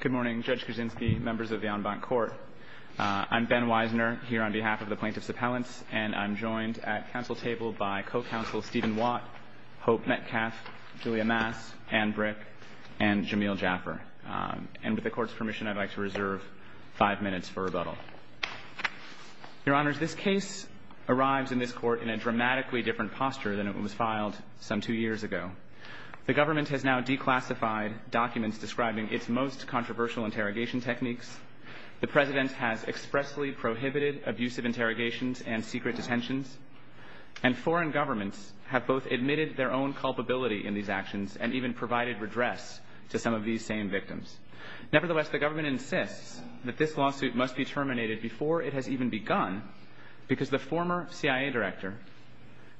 Good morning Judge Kuczynski, members of the en banc court. I'm Ben Weisner here on behalf of the Plaintiffs' Appellants and I'm joined at council table by co-counsel Stephen Watt, Hope Metcalfe, Julia Maas, Anne Brick, and Jameel Jaffer. And with the court's permission, I'd like to reserve five minutes for rebuttal. Your Honor, this case arrives in this court in a dramatically different posture than it was filed some two years ago. The government has now declassified documents describing its most controversial interrogation techniques. The president has expressly prohibited abusive interrogations and secret detentions. And foreign governments have both admitted their own culpability in these actions and even provided redress to some of these same victims. Nevertheless, the government insists that this lawsuit must be terminated before it has even begun because the former CIA director,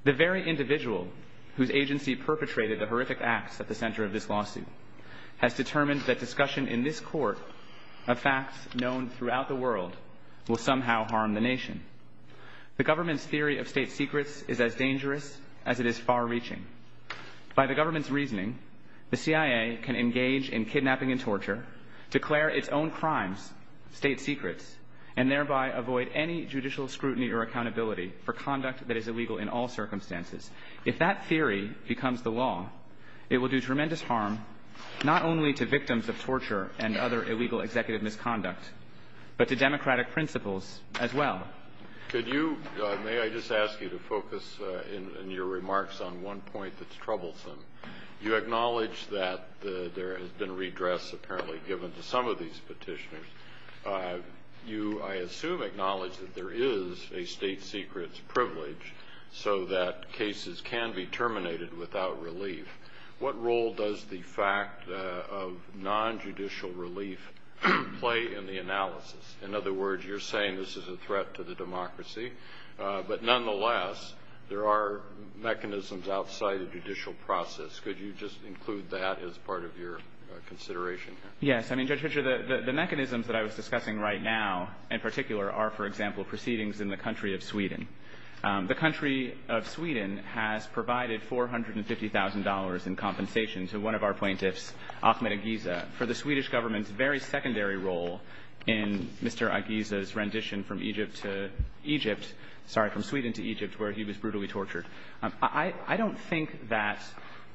the very individual whose agency perpetrated the horrific acts at the center of this lawsuit, has determined that discussion in this court of facts known throughout the world will somehow harm the nation. The government's theory of state secrets is as dangerous as it is far-reaching. By the government's reasoning, the CIA can engage in kidnapping and torture, declare its own crimes, state secrets, and thereby avoid any judicial scrutiny or accountability for conduct that is illegal in all circumstances. If that theory becomes the law, it will do tremendous harm not only to victims of torture and other illegal executive misconduct, but to democratic principles as well. Could you, may I just ask you to focus in your remarks on one point that's troublesome. You acknowledge that there has been redress apparently given to some of these petitioners. You, I assume, acknowledge that there is a state secrets privilege so that cases can be terminated without relief. What role does the fact of non-judicial relief play in the analysis? In other words, you're saying this is a threat to the democracy, but nonetheless, there are mechanisms outside the judicial process. Could you just include that as part of your consideration? Yes, I mean Judge Hitcher, the mechanisms that I was discussing right now, in particular, are, for example, proceedings in the country of Sweden. The country of Sweden has provided $450,000 in compensation to one of our plaintiffs, Achmed Igiza, for the Swedish government's very secondary role in Mr. Igiza's transition from Egypt to Egypt, sorry, from Sweden to Egypt, where he was brutally tortured. I don't think that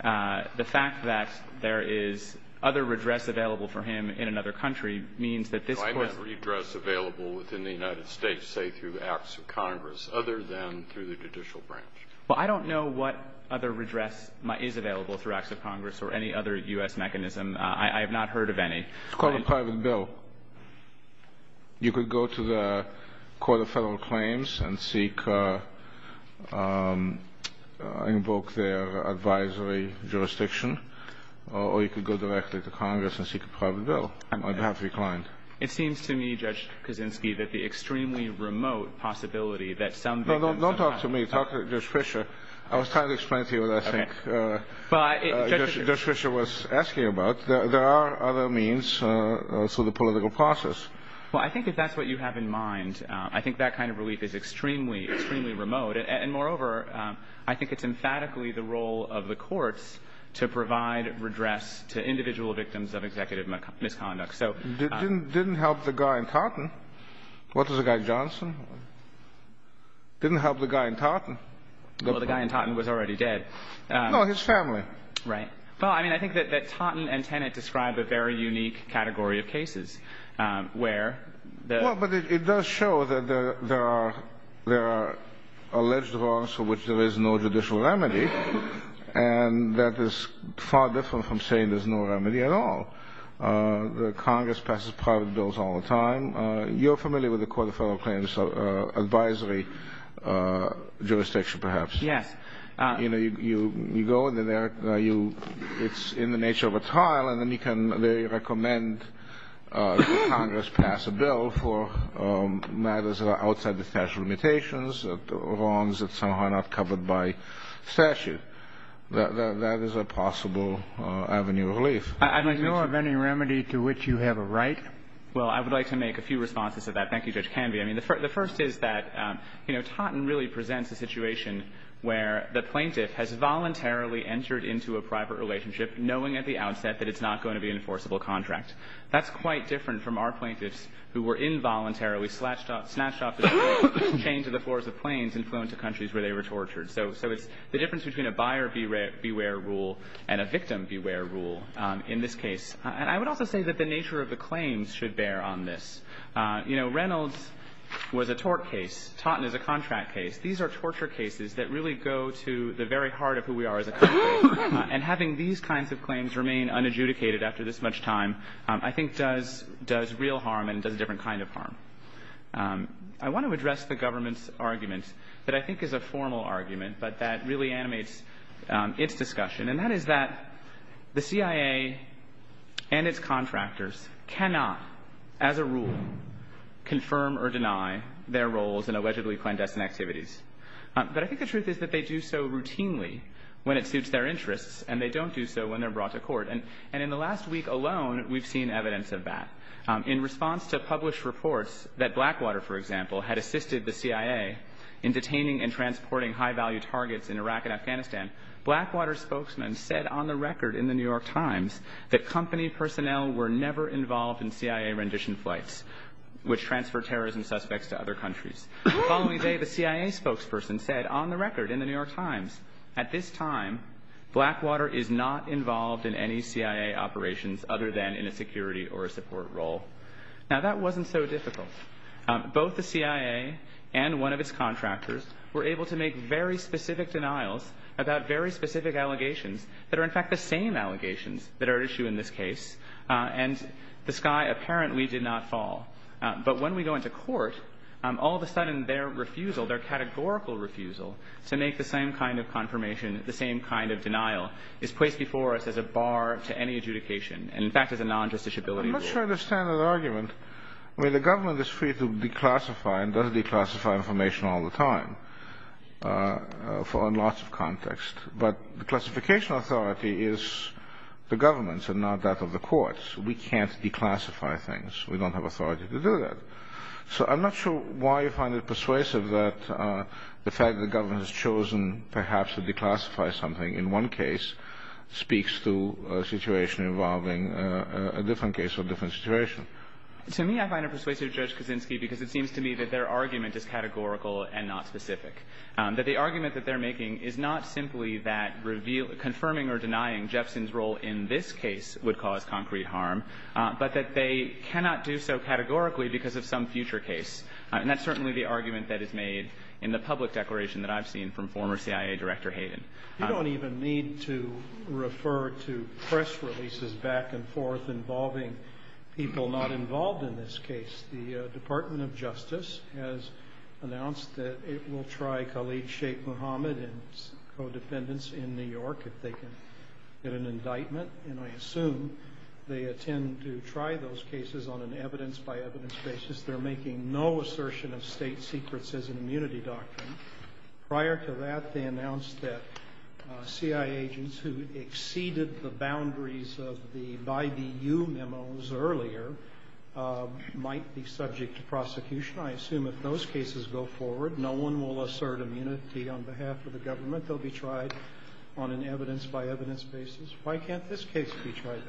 the fact that there is other redress available for him in another country means that this... If I have redress available within the United States, say through Acts of Congress, other than through the judicial branch. Well, I don't know what other redress is available through Acts of Congress or any other U.S. mechanism. I have not heard of any. It's called a private bill. You could go to the Court of Federal Claims and seek a Invoke their advisory jurisdiction or you could go directly to Congress and seek a private bill. I'd have to be kind. It seems to me, Judge Kaczynski, that the extremely remote possibility that some... No, don't talk to me. Talk to Judge Fischer. I was trying to explain to you what I think Judge Fischer was asking about. There are other means through the political process. Well, I think if that's what you have in mind, I think that kind of relief is extremely, extremely remote. And moreover, I think it's emphatically the role of the courts to provide redress to individual victims of executive misconduct. Didn't help the guy in Taunton. What was the guy, Johnson? Didn't help the guy in Taunton. Well, the guy in Taunton was already dead. No, his family. Right. Well, I mean, I think that Taunton and Tennant describe a very unique category of cases where... Well, but it does show that there are there are alleged wrongs for which there is no judicial remedy and that is far different from saying there's no remedy at all. The Congress passes private bills all the time. You're familiar with the Court of Federal Claims advisory jurisdiction, perhaps. Yeah. You know, you go in there, it's in the nature of a trial, and then you can, they recommend that Congress pass a bill for matters outside the statute of limitations or wrongs that somehow are not covered by statute. That is a possible avenue of relief. I mean, do you have any remedy to which you have a right? Well, I would like to make a few responses to that. Thank you, Judge Canvey. I mean, the first is that, you know, Taunton really presents a situation where the plaintiff has voluntarily entered into a private relationship knowing at the outset that it's not going to be an enforceable contract. That's quite different from our plaintiffs who were involuntarily snatched off the chain to the force of planes and flown to countries where they were tortured. So the difference between a buyer beware rule and a victim beware rule in this case, and I would also say that the nature of the claims should bear on this. You know, Reynolds was a tort case, Taunton is a contract case. These are torture cases that really go to the very heart of who we are as a country and having these kinds of claims remain unadjudicated after this much time, I think does real harm and does a different kind of harm. I want to address the government's argument that I think is a formal argument, but that really animates its discussion, and that is that the CIA and its contractors cannot, as a rule, confirm or deny their roles in allegedly clandestine activities. But I think the truth is that they do so routinely when it suits their interests, and they don't do so when they're brought to court. And in the last week alone, we've seen evidence of that. In response to published reports that Blackwater, for example, had assisted the CIA in detaining and transporting high-value targets in Iraq and Afghanistan, Blackwater spokesman said on the record in the New York Times that company personnel were never involved in CIA rendition flights which transfer terrorism suspects to other countries. Following the day, the CIA spokesperson said on the record in the New York Times, at this time, Blackwater is not involved in any CIA operations other than in a security or a support role. Now, that wasn't so difficult. Both the CIA and one of its contractors were able to make very specific denials about very specific allegations that are, in fact, the same allegations that are at issue in this case, and the sky apparently did not fall. But when we go into court, all of a sudden, their refusal, their categorical refusal to make the same kind of confirmation, the same kind of denial, is placed before us as a bar to any adjudication, and in fact, it's a non-judicial ability. I'm not sure I understand that argument. I mean, the government is free to declassify and doesn't declassify information all the time for a loss of context, but the classification authority is the government's and not that of the courts. We can't declassify things. We don't have authority to do that. So I'm not sure why you find it persuasive that the fact the government has chosen perhaps to declassify something in one case speaks to a situation involving a different case or a different situation. To me, I find it persuasive, Judge Kuczynski, because it seems to me that their argument is categorical and not specific, that the argument that they're making is not simply that confirming or denying Jefferson's role in this case would cause concrete harm, but that they cannot do so categorically because of some future case. And that's certainly the argument that is made in the public declaration that I've seen from former CIA Director Hayden. You don't even need to refer to press releases back and forth involving people not involved in this case. The Department of Justice has announced that it will try Khalid Sheikh Mohammed and his team to try those cases on an evidence-by-evidence basis. They're making no assertion of state secrets as an immunity doctrine. Prior to that, they announced that CIA agents who exceeded the boundaries of the YBU memos earlier might be subject to prosecution. I assume if those cases go forward, no one will assert immunity on behalf of the government. They'll be tried on an evidence-by-evidence basis. Why can't this case be tried?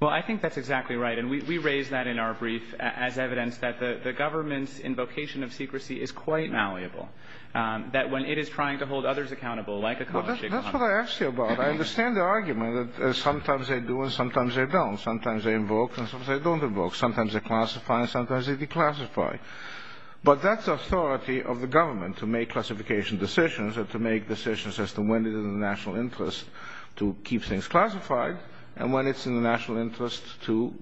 Well, I think that's exactly right. And we raised that in our brief as evidence that the government's invocation of secrecy is quite malleable. That when it is trying to hold others accountable, like a Khalid Sheikh Mohammed... That's what I asked you about. I understand the argument that sometimes they do and sometimes they don't. Sometimes they invoke and sometimes they don't invoke. Sometimes they classify and sometimes they declassify. But that's the authority of the government to make classification decisions and to make decisions as to when it is in the national interest to keep things classified and when it's in the national interest to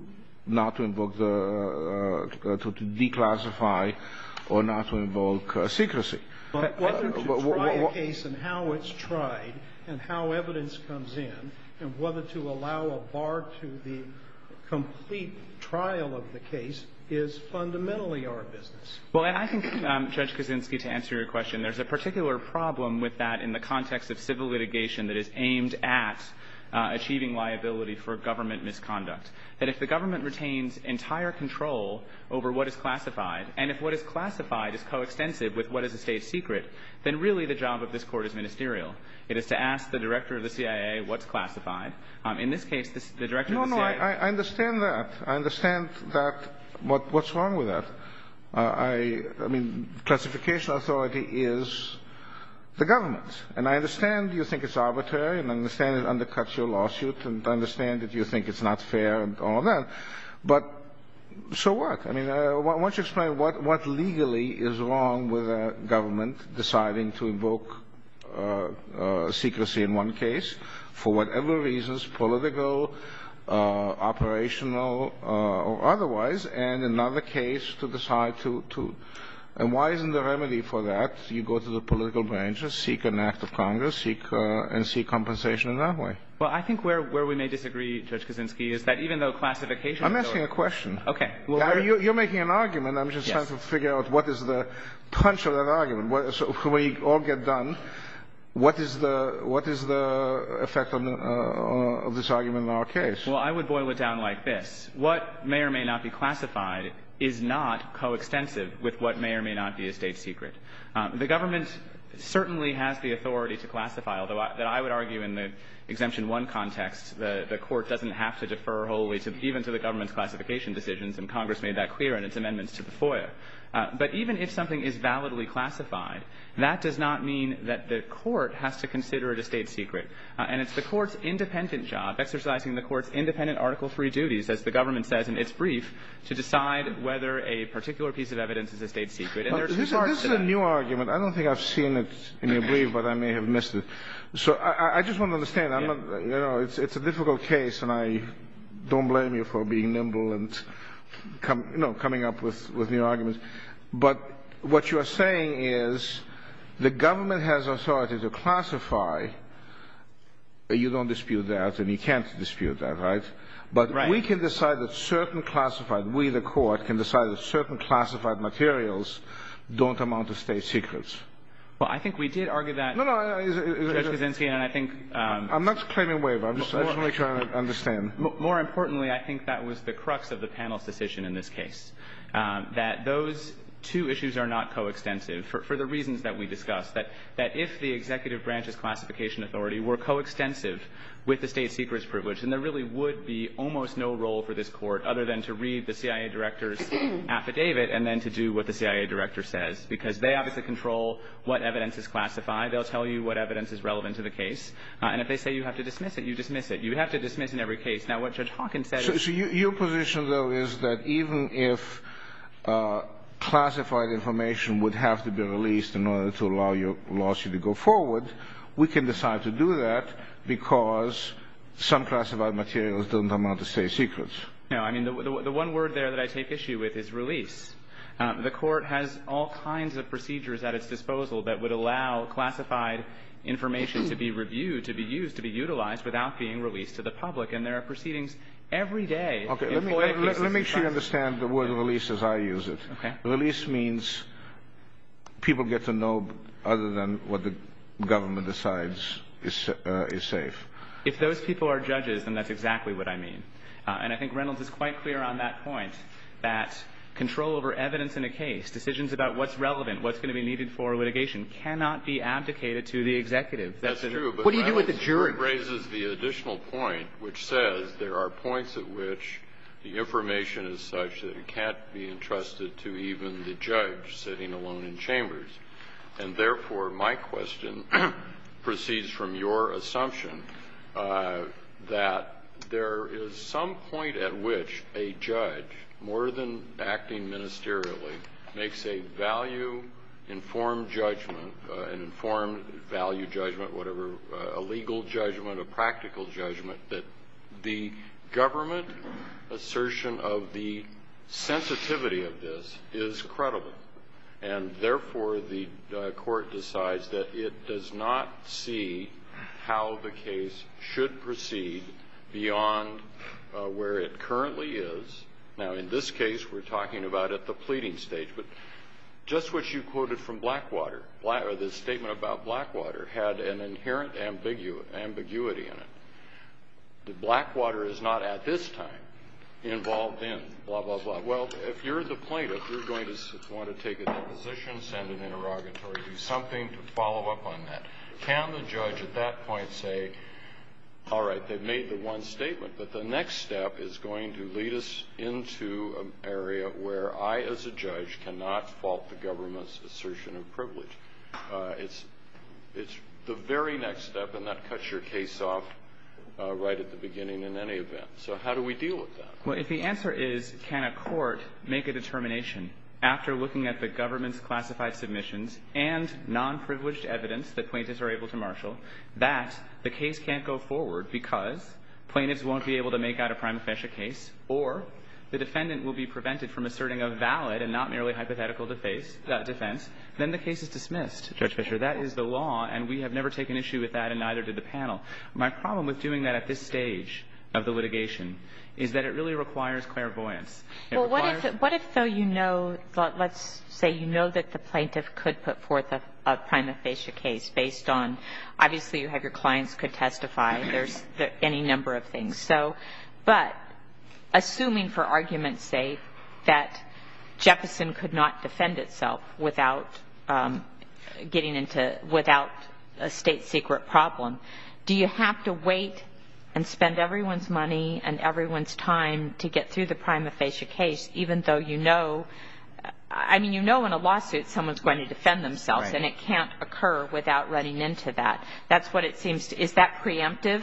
not to invoke the... declassify or not to invoke secrecy. Whether to try a case and how it's tried and how evidence comes in and whether to allow a bar to the complete trial of the case is fundamentally our business. Well, I think, Judge Kuczynski, to answer your question, there's a particular problem with that in the context of civil litigation that is aimed at achieving liability for government misconduct. That if the government retains entire control over what is classified and if what is classified is coextensive with what is a state secret, then really the job of this court is ministerial. It is to ask the director of the CIA what's classified. In this case, the director... No, no, I understand that. I understand that. What's wrong with that? I mean, classification authority is the government's. And I understand you think it's arbitrary and I understand it undercuts your lawsuit and I understand that you think it's not fair and all that, but so what? I mean, why don't you explain what legally is wrong with a government deciding to invoke secrecy in one case for whatever reasons, political, operational, or otherwise, and another case to decide to... And why isn't the remedy for that? You go to the political branches, seek an act of Congress, and seek compensation in that way. Well, I think where we may disagree, Judge Kuczynski, is that even though classification... I'm asking a question. Okay. You're making an argument. I'm just trying to figure out what is the punch of that argument. So when we all get done, what is the effect of this argument in our case? Well, I would boil it down like this. What may or may not be classified is not coextensive with what may or may not be a state secret. The government certainly has the authority to classify, although I would argue in the Exemption 1 context, the court doesn't have to defer whole ways, even to the government's classification decisions, and Congress made that clear in its amendment to the FOIA. But even if something is validly classified, that does not mean that the court has to consider it a state secret. And it's the court's independent job, exercising the court's independent article-free duties, as the government says in its brief, to decide whether a particular piece of evidence is a state secret. This is a new argument. I don't think I've seen it in the brief, but I may have missed it. So I just want to understand. It's a difficult case, and I don't blame you for being nimble and coming up with new arguments. But what you are saying is the government has authority to classify. You don't dispute that, and you can't dispute that, right? But we can decide that certain classified, we the court, can decide that certain classified materials don't amount to state secrets. Well, I think we did argue that. No, no. I'm not claiming waiver. I'm just trying to make sure I understand. More importantly, I think that was the crux of the panel's decision in this case. That those two issues are not coextensive, for the reasons that we discussed, that if the executive branch's classification authority were coextensive with the state secret's privilege, then there really would be almost no role for this court other than to read the CIA director's affidavit, and then to do what the CIA director says, because they obviously control what evidence is classified. They'll tell you what evidence is relevant to the case. And if they say you have to dismiss it, you dismiss it. You have to dismiss in every case. Now what Judge Hawkins said... Your position, though, is that even if classified information would have to be released in order to allow your lawsuit to go forward, we can decide to do that because some classified materials don't amount to state secrets. No, I mean the one word there that I take issue with is release. The court has all kinds of procedures at its disposal that would allow classified information to be reviewed, to be used, to be utilized without being released to the public, and there are proceedings every day. Let me make sure you understand the word release as I use it. Release means people get to know other than what the government decides is safe. If those people are judges, and that's exactly what I mean, and I think Reynolds is quite clear on that point that control over evidence in a case, decisions about what's relevant, what's going to be needed for litigation, cannot be abdicated to the executive. That's true. What do you do with the jury? That raises the additional point which says there are points at which the information is such that it can't be entrusted to even the judge sitting alone in chambers. And therefore my question proceeds from your assumption that there is some point at which a judge, more than acting ministerially, makes a value informed judgment, an informed value judgment, whatever, a legal judgment, a practical judgment that the government assertion of the sensitivity of this is credible. And therefore the court decides that it does not see how the case should proceed beyond where it currently is. Now in this case, we're talking about at the pleading stage, but just what you quoted from Blackwater, the statement about Blackwater, had an inherent ambiguity in it. That Blackwater is not at this time involved in blah blah blah. Well, if you're the plaintiff, you're going to want to take a deposition, send an interrogatory, something to follow up on that. Can the judge at that point say, all right, they've made the one statement, but the next step is going to lead us into an area where I as a judge cannot fault the government's assertion of privilege. It's the very next step and that cuts your case off right at the beginning in any event. So how do we deal with that? If the answer is, can a court make a determination after looking at the government's classified submissions and non-privileged evidence that plaintiffs are able to marshal that the case can't go forward because plaintiffs won't be able to make out a prime offense case or the defendant will be prevented from asserting a valid and not merely hypothetical defense, then the case is dismissed, Judge Fisher. That is the law and we have never taken issue with that and neither did the panel. My problem with doing that at this stage of the litigation is that it really requires clairvoyance. What if, though, you know, let's say you know that the plaintiff could put forth a prime offense case based on obviously you have your clients could testify, there's any number of things, so but assuming for argument's sake that Jefferson could not defend itself without getting into without a state secret problem, do you have to wait and spend everyone's money and everyone's time to get through the prime offense case even though, you know, I mean, you know in a lawsuit someone's going to defend themselves and it can't occur without running into that. That's what it seems. Is that preemptive?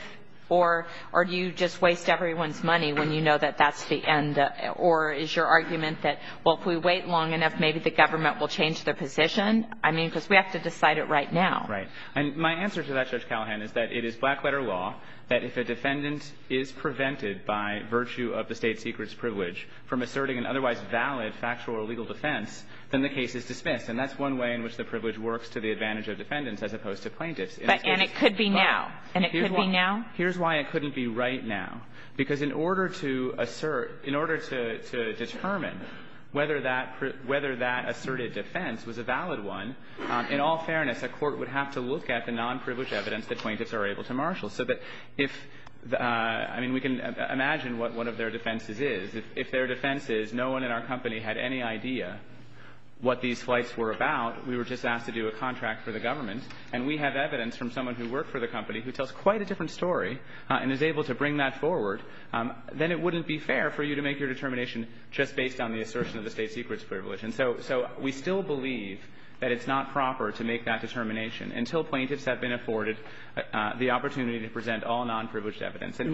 Or do you just waste everyone's money when you know that that's the end? Or is your argument that well, if we wait long enough, maybe the government will change their position? I mean because we have to decide it right now. Right. And my answer to that, Judge Callahan, is that it is black-letter law that if a defendant is prevented by virtue of the state secret's privilege from asserting an otherwise valid factual or legal defense, then the case is dismissed and that's one way in which the privilege works to the advantage of defendants as opposed to plaintiffs. And it could be now. And it could be now? Here's why it couldn't be right now because in order to assert, in order to determine whether that asserted defense was a valid one, in all fairness, the court would have to look at the non-privileged evidence that plaintiffs are able to marshal. So that if I mean we can imagine what one of their defenses is. If their defense is no one in our company had any idea what these flights were about, we were just asked to do a contract for the government and we have evidence from someone who worked for the company who tells quite a different story and is able to bring that forward, then it wouldn't be fair for you to make your determination just based on the assertion of the state secret's privilege. And so we still believe that it's not proper to make that determination until plaintiffs have been afforded the opportunity to present all non-privileged evidence. Do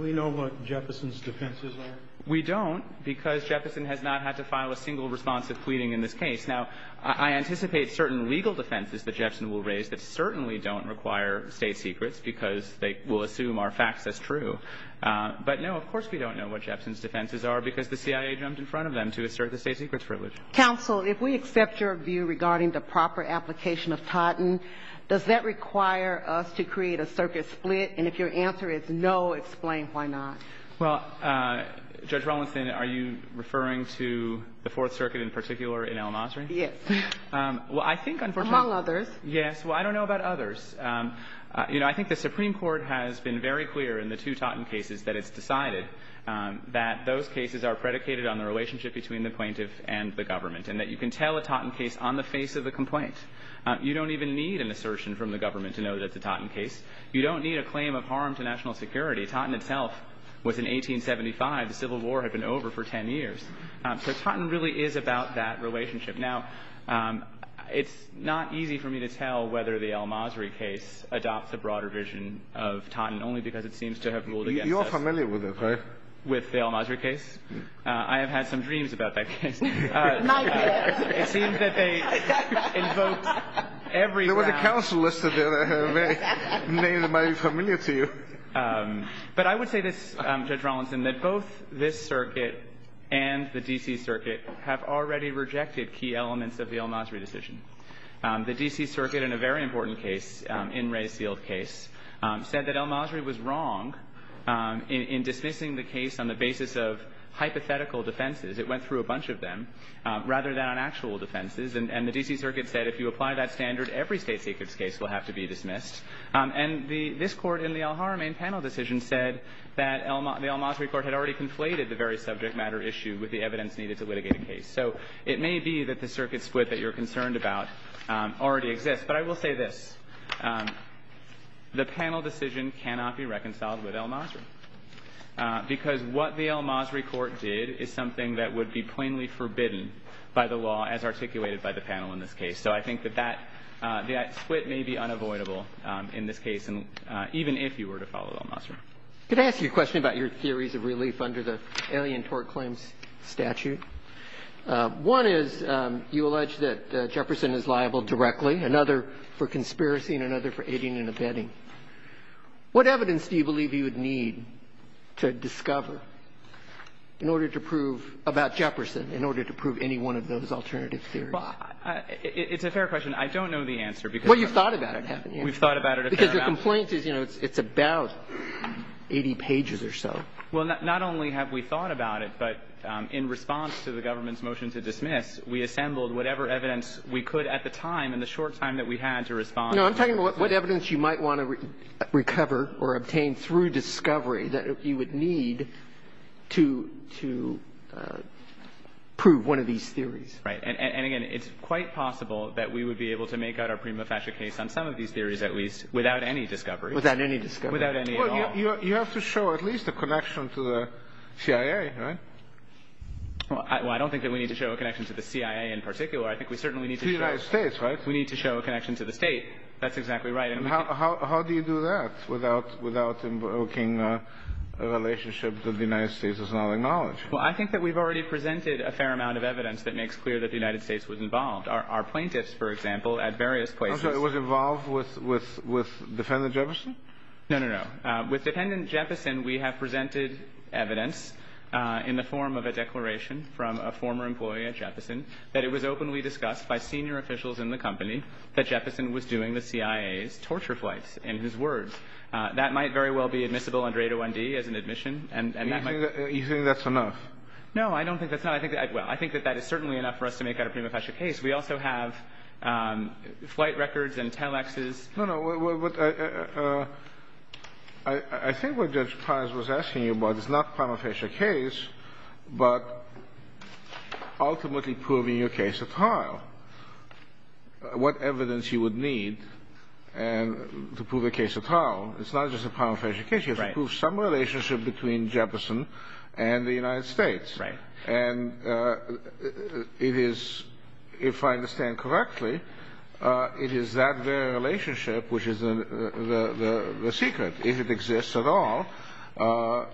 we know what Jefferson's defenses are? We don't because Jefferson has not had to file a single response to pleading in this case. Now, I anticipate certain legal defenses that Jefferson will raise that certainly don't require state secrets because they will assume our facts as true. But no, of course, we don't know what Jefferson's defenses are because the CIA jumps in front of them to assert the state secret's privilege. Counsel, if we accept your view regarding the proper application of Totten, does that require us to create a circuit split? And if your answer is no, explain why not. Well, Judge Rollinson, are you referring to the Fourth Circuit in particular in El Nasseri? Yes. Well, I think unfortunately... Among others. Yes. Well, I don't know about others. You know, I think the Supreme Court has been very clear in the two Totten cases that it's decided that those cases are predicated on the relationship between the plaintiff and the government and that you can tell a Totten case on the face of a complaint. You don't even need an assertion from the government to know that it's a Totten case. You don't need a claim of harm to national security. Totten itself was in 1875. The Civil War had been over for 10 years. So Totten really is about that relationship. Now, it's not easy for me to tell whether the El Nasseri case adopts a broader vision of Totten only because it seems to have ruled against it. You're familiar with it, right? With the El Nasseri case? I have had some dreams about that case. It seems that they invoked every... You're a counsellor, so they might be familiar to you. But I would say this, Judge Rollinson, that both this circuit and the D.C. Circuit have already rejected key elements of the El Nasseri decision. The D.C. Circuit, in a very important case, in Ray Field's case, said that El Nasseri was wrong in dismissing the case on the basis of hypothetical defenses. It went through a bunch of them rather than actual defenses. And the D.C. Circuit said, if you apply that standard, every state secrets case will have to be dismissed. And this court in the El Haramain panel decision said that the El Nasseri court had already conflated the very subject matter issue with the evidence needed to litigate the case. So it may be that the circuit split that you're concerned about already exists. But I will say this, the panel decision cannot be reconciled with El Nasseri because what the El Nasseri court did is something that would be plainly forbidden by the law as articulated by the panel in this case. So I think that that split may be unavoidable in this case, even if you were to follow El Nasseri. Could I ask you a question about your theories of relief under the Alien Tort Claims Statute? One is, you allege that Jefferson is liable directly, another for conspiracy, and another for aiding and abetting. What evidence do you believe you would need to discover about Jefferson in order to prove any one of those alternative theories? It's a fair question. I don't know the answer. Well, you've thought about it. We've thought about it. Because the complaint is, you know, it's about 80 pages or so. Well, not only have we thought about it, but in response to the government's motion to dismiss, we assembled whatever evidence we could at the time, in the short time that we had to respond. No, I'm talking about what evidence you might want to recover or obtain through discovery that you would need to prove one of these theories. Right. And again, it's quite possible that we would be able to make out our prima facie case on some of these theories, at least, without any discovery. Without any discovery. Without any at all. Well, you have to show at least a connection to the CIA, right? Well, I don't think that we need to show a connection to the CIA in particular. I think we certainly need to show... The United States, right? We need to show a connection to the states. That's exactly right. And how do you do that without invoking a relationship that the United States has not acknowledged? Well, I think that we've already presented a fair amount of evidence that makes clear that the United States was involved. Our plaintiffs, for example, at various places... I'm sorry, it was involved with Dependent Jefferson? No, no, no. With Dependent Jefferson, we have presented evidence in the form of a declaration from a former employee at Jefferson that it was openly discussed by senior officials in the company that Jefferson was doing the CIA's torture flights, in his words. That might very well be admissible under 801-D as an admission, and that might... You think that's enough? No, I don't think that's enough. I think that that is certainly enough for us to make out a prima facie case. We also have flight records and telexes. No, no. I think what Judge Pires was asking you about is not a prima facie case, but ultimately proving your case at all. What evidence you would need to prove a case at all. It's not just a prima facie case. You have to prove some relationship between Jefferson and the United States. If I understand correctly, it is that very relationship which is the secret. If it exists at all,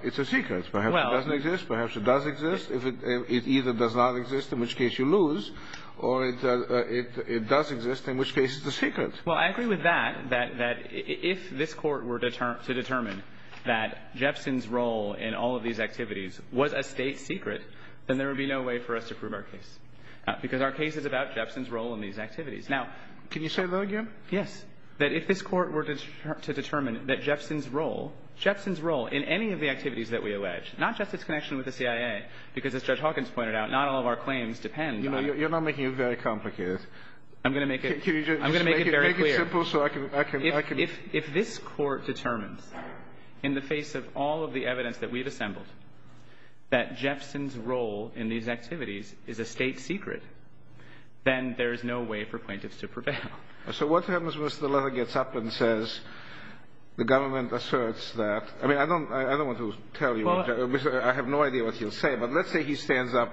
it's a secret. Perhaps it doesn't exist. Perhaps it does exist. It either does not exist, in which case you lose, or it does exist, in which case it's a secret. Well, I agree with that, that if this court were to determine that Jefferson's role in all of these activities was a state secret, then there would be no way for us to prove our case. Because our case is about Jefferson's role in these activities. Now, can you say the word again? Yes. That if this court were to determine that Jefferson's role, Jefferson's role in any of the activities that we allege, not just his connection with the CIA, because as Judge Hawkins pointed out, not all of our claims depend on it. You're not making it very complicated. I'm going to make it very clear. If this court determines, in the face of all of the evidence that we've assembled, that Jefferson's role in these activities is a state secret, then there is no way for plaintiffs to prevail. So what happens once the letter gets up and says, the government asserts that, I mean, I don't want to tell you, I have no idea what he'll say, but let's say he stands up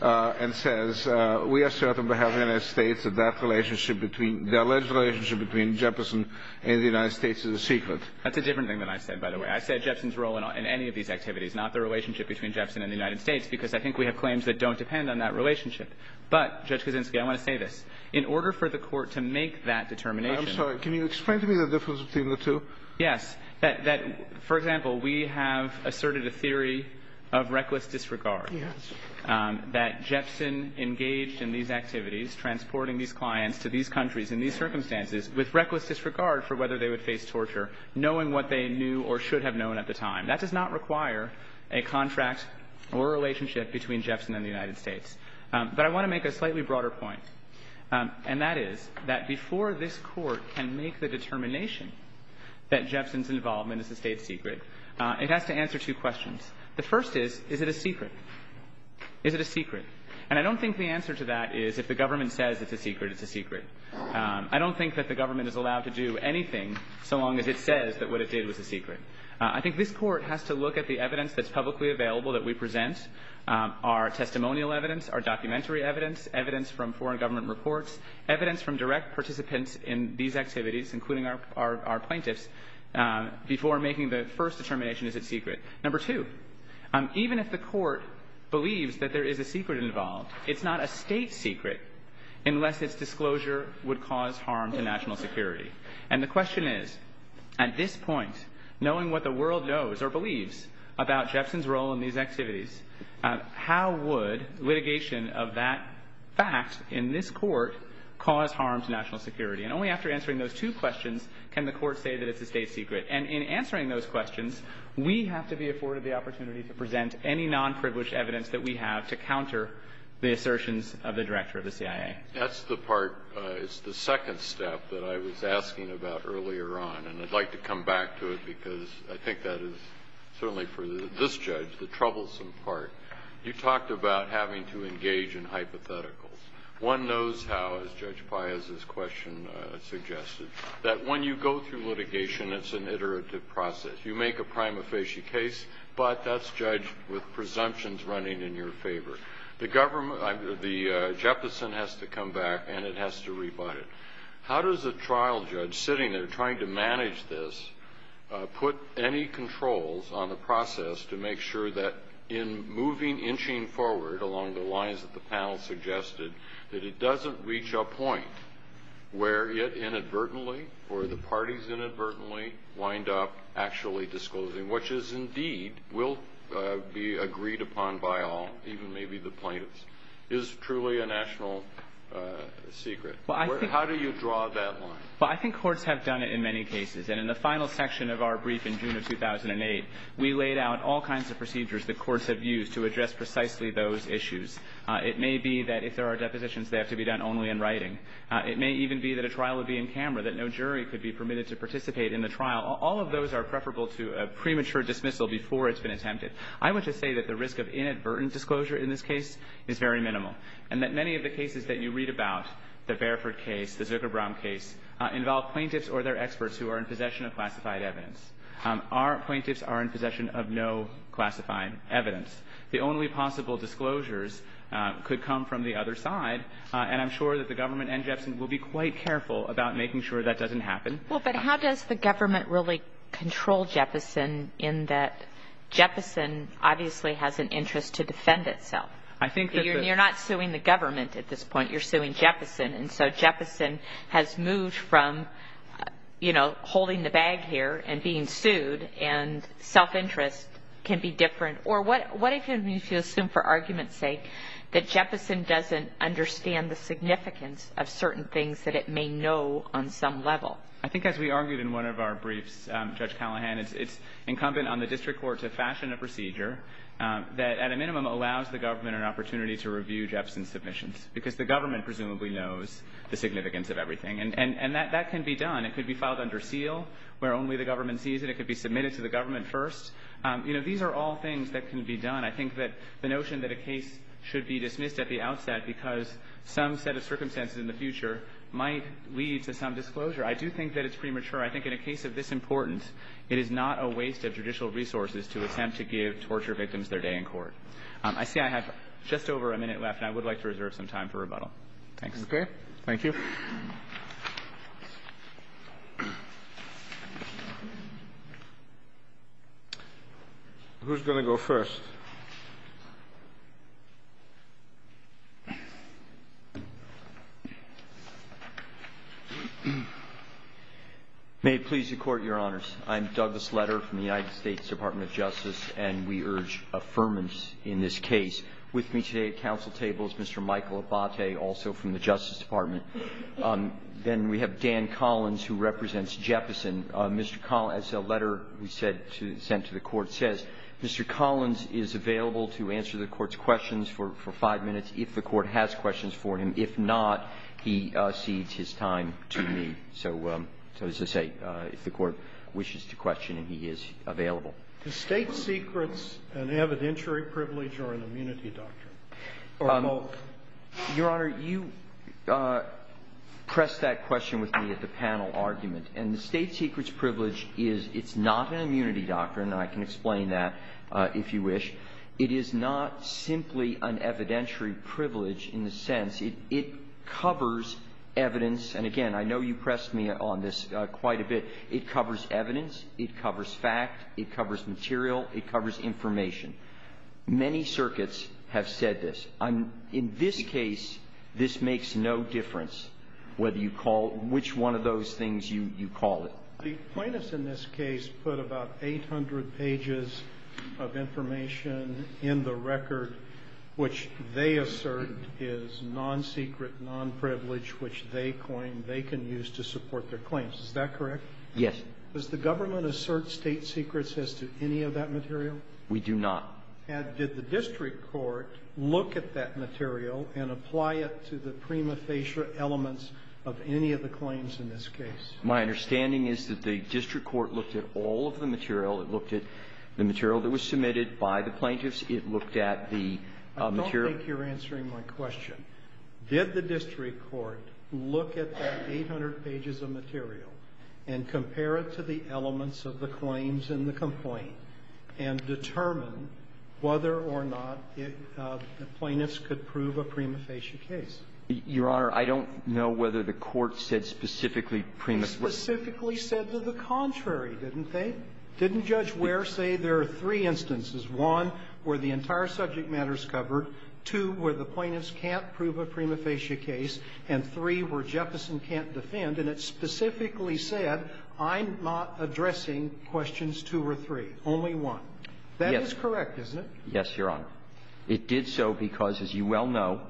and says, we are certain by having a state that that relationship between, the alleged relationship between Jefferson and the United States is a secret. That's a different thing than I said, by the way. I said Jefferson's role in any of these activities, not the relationship between Jefferson and the United States, because I think we have claims that don't depend on that relationship. But, Judge Kuczynski, I want to say this. In order for the court to make that determination, I'm sorry, can you explain to me the difference between the two? Yes, that, for example, we have asserted a theory of reckless disregard, that Jefferson engaged in these activities, transporting these clients to these countries in these circumstances, with reckless disregard for whether they would face torture, knowing what they knew or should have known at the time. That does not require a contract or a relationship between Jefferson and the United States. But I want to make a slightly broader point. And that is, that before this court can make the determination that Jefferson's involvement is a state secret, it has to answer two questions. The first is, is it a secret? Is it a secret? And I don't think the answer to that is, if the government says it's a secret, it's a secret. I don't think that the government is allowed to do anything so long as it says that what it did was a secret. I think this court has to look at the evidence that's publicly available that we present, our testimonial evidence, our documentary evidence, evidence from foreign government reports, evidence from direct participants in these activities, including our plaintiffs, before making the first determination, is it secret? Number two, even if the court believes that there is a secret involved, it's not a state secret unless its disclosure would cause harm to national security. And the question is, at this point, knowing what the world knows or believes about Jefferson's role in these activities, how would litigation of that fact in this court cause harm to national security? And only after answering those two questions can the court say that it's a state secret. And in answering those questions, we have to be afforded the opportunity to present any non-privileged evidence that we have to counter the assertions of the director of the CIA. That's the part, it's the second step that I was asking about earlier on, and I'd like to come back to it because I think that is certainly for this judge the troublesome part. You talked about having to engage in hypotheticals. One knows how, as Judge Paius's question suggested, that when you go through litigation, it's an iterative process. You make a prima facie case, but that's judged with presumptions running in your favor. The government, the Jefferson has to come back and it has to rebut it. How does a trial judge sitting there trying to manage this put any controls on the process to make sure that in moving inching forward along the lines that the panel suggested that it doesn't reach a point where it inadvertently or the parties inadvertently wind up actually disclosing, which is indeed will be agreed upon by all, even maybe the plaintiffs, is truly a national secret? How do you draw that line? I think courts have done it in many cases, and in the final section of our brief in June of 2008, we laid out all kinds of procedures that courts have used to address precisely those issues. It may be that if there are depositions, they have to be done only in writing. It may even be that a trial will be in camera, that no jury could be permitted to participate in the trial. All of those are preferable to a premature dismissal before it's been attempted. I would just say that the risk of inadvertent disclosure in this case is very minimal, and that many of the cases that you read about, the Bareford case, the Zitterbaum case, involve plaintiffs or their experts who are in possession of classified evidence. Our plaintiffs are in possession of no classified evidence. The only possible disclosures could come from the other side, and I'm sure that the government and Jefferson will be quite careful about making sure that doesn't happen. Well, but how does the government really control Jefferson in that Jefferson obviously has an interest to defend itself? You're not suing the government at this point. You're suing Jefferson, and so Jefferson has moved from holding the bag here and being sued, and self-interest can be different. Or what if you assume for argument's sake that Jefferson doesn't understand the significance of certain things that it may know on some level? I think as we argued in one of our briefs, Judge Callahan, it's incumbent on the district court to fashion a procedure that at a minimum allows the government an opportunity to review Jefferson's submissions, because the government presumably knows the significance of everything, and that can be done. It could be filed under seal, where only the government sees it. It could be submitted to the government first. These are all things that can be done. I think that the notion that a case should be dismissed at the outset because some set of circumstances in the future might lead to some disclosure. I do think that it's premature. I think in a case of this importance, it is not a waste of judicial resources to attempt to give torture victims their day in court. I see I have just over a minute left, and I would like to reserve some time for rebuttal. Thank you. Okay. Thank you. Who's going to go first? Thank you. May it please the court, your honors. I'm Douglas Leder from the United States Department of Justice, and we urge affirmance in this case. With me today at council table is Mr. Michael Abbate, also from the Justice Department. Then we have Dan Collins, who represents Jefferson. Mr. Collins, as the letter we sent to the court says, Mr. Collins is available to answer the court's questions for five minutes if the court has questions for him. If not, he cedes his time to me. So as I say, if the court wishes to question him, he is available. Is state secrets an evidentiary privilege or an immunity doctrine? Your honor, you pressed that question with me at the panel argument, and the state secrets privilege is it's not an immunity doctrine. I can explain that if you wish. It is not simply an evidentiary privilege in the sense it covers evidence. And again, I know you pressed me on this quite a bit. It covers evidence. It covers fact. It covers material. It covers information. Many circuits have said this. In this case, this makes no difference which one of those things you call it. The plaintiffs in this case put about 800 pages of information in the record which they assert is non-secret, non-privilege, which they claim they can use to support their claims. Is that correct? Yes. Does the government assert state secrets as to any of that material? We do not. And did the district court look at that material and apply it to the prima facie elements of any of the claims in this case? My understanding is that the district court looked at all of the material. It looked at the material that was submitted by the plaintiffs. It looked at the material. I don't think you're answering my question. Did the district court look at that 800 pages of material and compare it to the elements of the claims in the complaint and determine whether or not the plaintiffs could prove a prima facie case? Your Honor, I don't know whether the court said specifically prima facie. It specifically said the contrary, didn't they? Didn't Judge Ware say there are three instances? One, where the entire subject matter is covered. Two, where the plaintiffs can't prove a prima facie case. And three, where Jefferson can't defend. And it specifically said I'm not addressing questions two or three. Only one. That is correct, isn't it? Yes, Your Honor. It did so because, as you well know,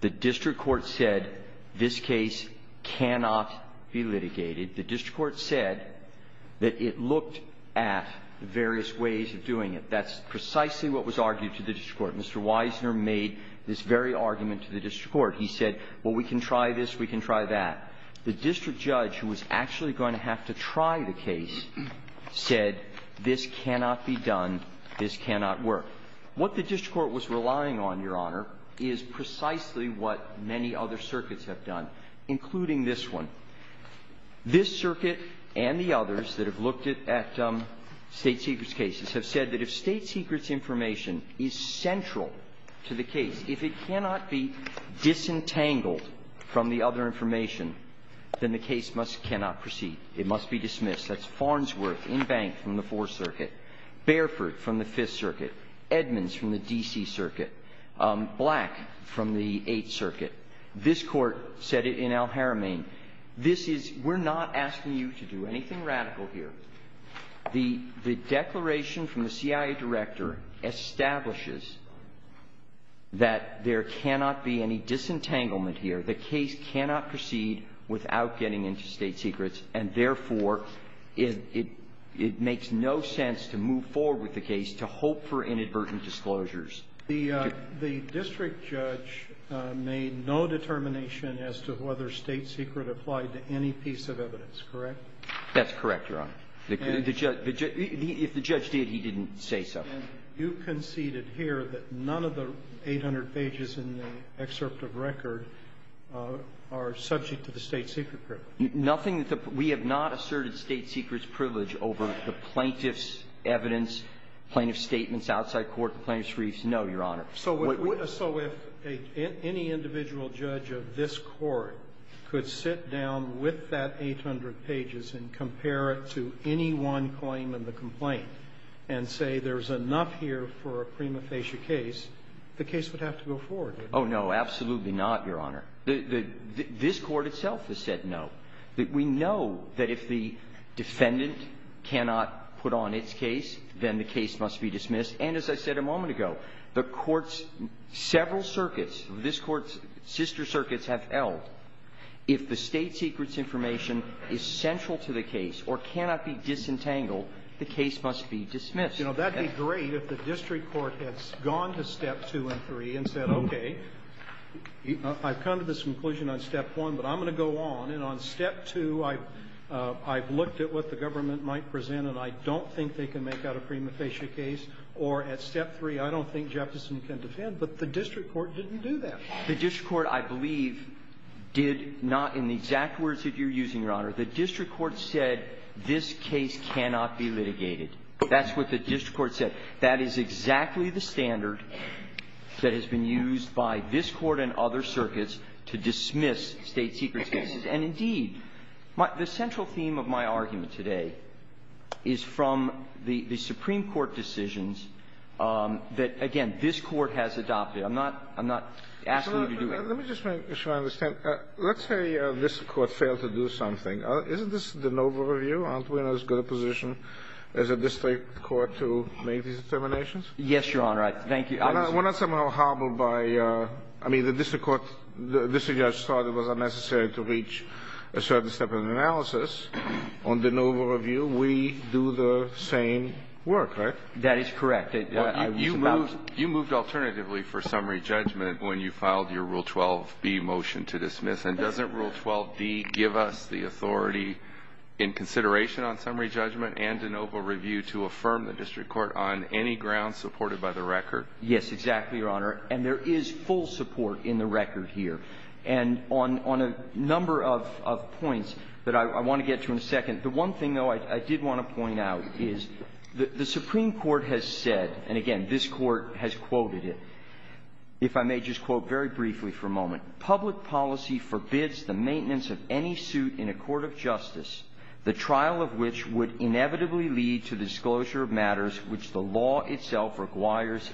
the district court said this case cannot be litigated. The district court said that it looked at various ways of doing it. That's precisely what was argued to the district court. Mr. Weisner made this very argument to the district court. He said, well, we can try this. We can try that. The district judge, who was actually going to have to try the case, said this cannot be done. This cannot work. What the district court was relying on, Your Honor, is precisely what many other circuits have done, including this one. This circuit and the others that have looked at state secrets cases have said that if state secrets information is central to the case, if it cannot be disentangled from the other information, then the case must cannot proceed. It must be dismissed. That's Farnsworth and Banks from the Fourth Circuit, Bareford from the Fifth Circuit, Edmonds from the D.C. Circuit, Black from the Eighth Circuit. This court said it in Al-Haramain. We're not asking you to do anything radical here. The declaration from the CIA director establishes that there cannot be any disentanglement here. The case cannot proceed without getting into state secrets and therefore it makes no sense to move forward with the case to hope for inadvertent disclosures. The district judge made no determination as to whether state secret applied to any piece of evidence, correct? That's correct, Your Honor. If the judge did, he didn't say so. You conceded here that none of the 800 pages in the excerpt of record are subject to the state secret. We have not asserted state secrets privilege over the plaintiff's evidence, plaintiff's statements outside court, the plaintiff's briefs. No, Your Honor. So if any individual judge of this court could sit down with that 800 pages and compare it to any one claim in the complaint and say there's enough here for a prima facie case, the case would have to go forward. Oh, no, absolutely not, Your Honor. This court itself has said no. We know that if the defendant cannot put on its case, then the case must be dismissed. And as I said a moment ago, the court's several circuits, this court's sister circuits have held if the state secret's information is central to the case or cannot be disentangled, the case must be dismissed. You know, that'd be great if the district court had gone to step two and three and said, okay, I've come to this conclusion on step one, but I'm going to go on. And on step two, I've looked at what the government might present, and I don't think they can make out a prima facie case. Or at step three, I don't think Jefferson can defend, but the district court didn't do that. The district court, I believe, did not, in the exact words that you're using, Your Honor, the district court said this case cannot be litigated. That's what the district court said. That is exactly the standard that has been used by this court and other circuits to dismiss state secret cases. And indeed, the central theme of my argument today is from the Supreme Court decisions that, again, this court has adopted. I'm not asking you to do that. Let me just make sure I understand. Let's say this court failed to do something. Isn't this the Nova Review? Aren't we in as good a position as a district court to make these determinations? Yes, Your Honor. Thank you. We're not somehow hobbled by, I mean, the district court, the district judge thought it was unnecessary to reach a certain step of analysis. On the Nova Review, we do the same work, right? That is correct. You moved alternatively for summary judgment when you filed your Rule 12B motion to dismiss. And doesn't Rule 12B give us the authority in consideration on summary judgment and the Nova Review to affirm the district court on any grounds supported by the record? Yes, exactly, Your Honor. And there is full support in the record here. And on a number of points that I want to get to in a second, the one thing, though, I did want to point out is the Supreme Court has said, and again, this court has quoted it, if I may just quote very briefly for a moment, public policy forbids the maintenance of any suit in a court of justice, the trial of which would inevitably lead to disclosure of matters which the law itself regards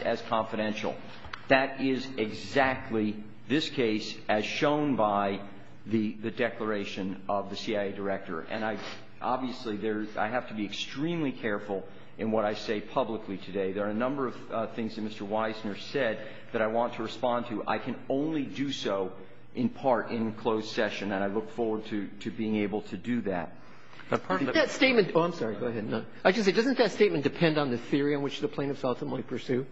as confidential. That is exactly this case as shown by the declaration of the CIA director. And obviously, I have to be extremely careful in what I say publicly today. There are a number of things that Mr. Weissner said that I want to respond to. I can only do so in part in closed session, and I look forward to being able to do that. That statement... Oh, I'm sorry. Go ahead. Doesn't that statement depend on the theory on which the plaintiff ultimately pursued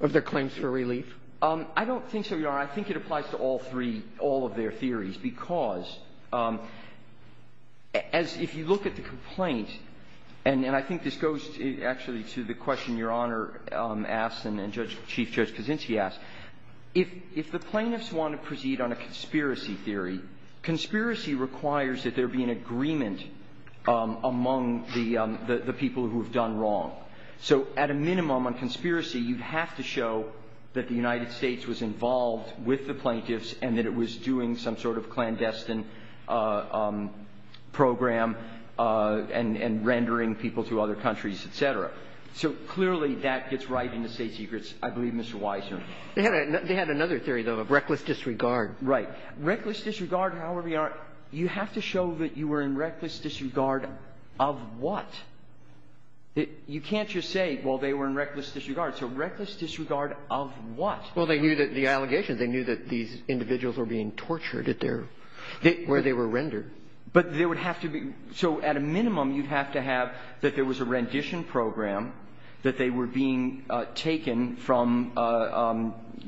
or their claims for relief? I don't think so, Your Honor. I think it applies to all three, all of their theories, because as if you look at the complaint, and I think this goes actually to the question Your Honor asked and Chief Judge Kucinich asked, if the plaintiffs want to proceed on a conspiracy theory, conspiracy requires that there be an agreement among the people who have done wrong. So at a minimum, on conspiracy, you have to show that the United States was involved with the plaintiffs and that it was doing some sort of clandestine program and rendering people to other countries, et cetera. So clearly, that gets right in the state secrets, I believe, Mr. Weissner. They had another theory, though, of reckless disregard. Right. Reckless disregard, however you are, you have to show that you were in reckless disregard of what? You can't just say, well, they were in reckless disregard. So reckless disregard of what? Well, the allegations, they knew that these individuals were being tortured where they were rendered. So at a minimum, you'd have to have that there was a rendition program, that they were being taken from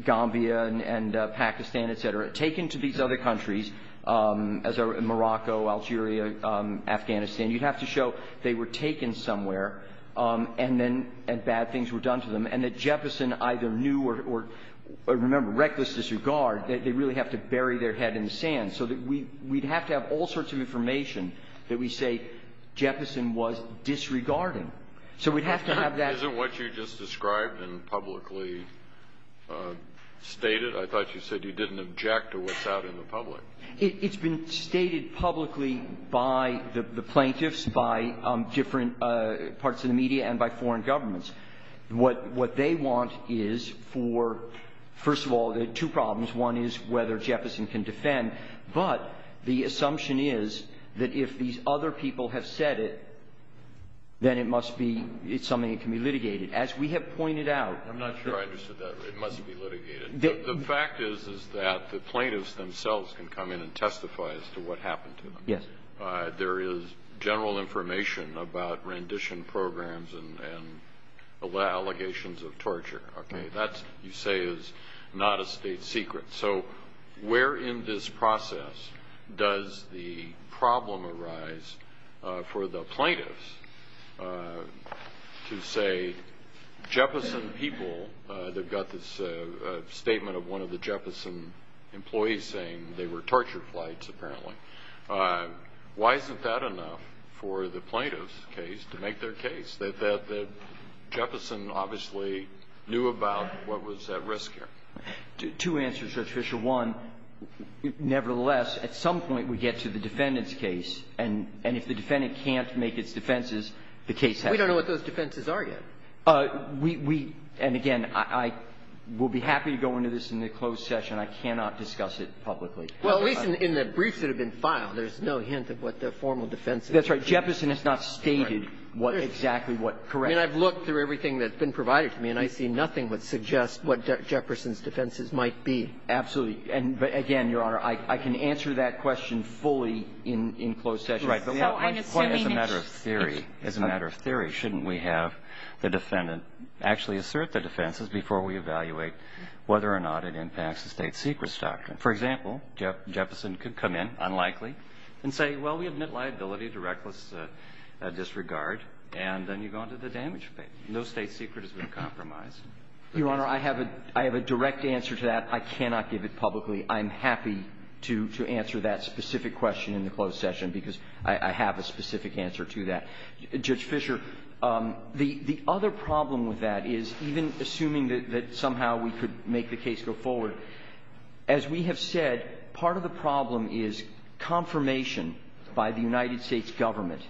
Gambia and Pakistan, et cetera, taken to these other countries, Morocco, Algeria, Afghanistan. You'd have to show they were taken somewhere and bad either knew or, remember, reckless disregard. They really have to bury their head in the sand so that we'd have to have all sorts of information that we say Jefferson was disregarding. So we'd have to have that. Isn't what you just described and publicly stated? I thought you said he didn't object to what's out in the public. It's been stated publicly by the plaintiffs, by different parts of the media and by foreign governments. What they want is for, first of all, there are two problems. One is whether Jefferson can defend. But the assumption is that if these other people have said it, then it must be something that can be litigated. As we have pointed out- I'm not sure I understood that. It must be litigated. The fact is that the plaintiffs themselves can come in and testify as to what happened to them. There is general information about rendition programs and allegations of torture. That, you say, is not a state secret. So where in this process does the problem arise for the plaintiffs to say Jefferson people- they've got this statement of one of the Jefferson employees saying they were torture flights, apparently. Why isn't that enough for the plaintiff's case to make their case, that Jefferson obviously knew about what was at risk here? Two answers, Judge Fischer. One, nevertheless, at some point we get to the defendant's case, and if the defendant can't make its defenses, the case- We don't know what those defenses are yet. We- and again, I will be happy to go into this in the closed session. I cannot discuss it publicly. Well, at least in the briefs that have been filed, there's no hint of what the formal defense is. That's right. Jefferson has not stated exactly what- correct. I mean, I've looked through everything that's been provided for me, and I see nothing that suggests what Jefferson's defenses might be. Absolutely. And again, Your Honor, I can answer that question fully in closed session. Right. But as a matter of theory, as a matter of theory, shouldn't we have the defendant actually assert the defenses before we evaluate whether or not it impacts the state secrets doctrine? For example, Jefferson could come in, unlikely, and say, well, we have knit liability to reckless disregard, and then you go into the damage case. No state secret has been compromised. Your Honor, I have a direct answer to that. I cannot give it publicly. I'm happy to answer that specific question in the closed session, because I have a specific answer to that. Judge Fischer, the other problem with that is, even assuming that somehow we could make the case go forward, as we have said, part of the problem is confirmation by the United States government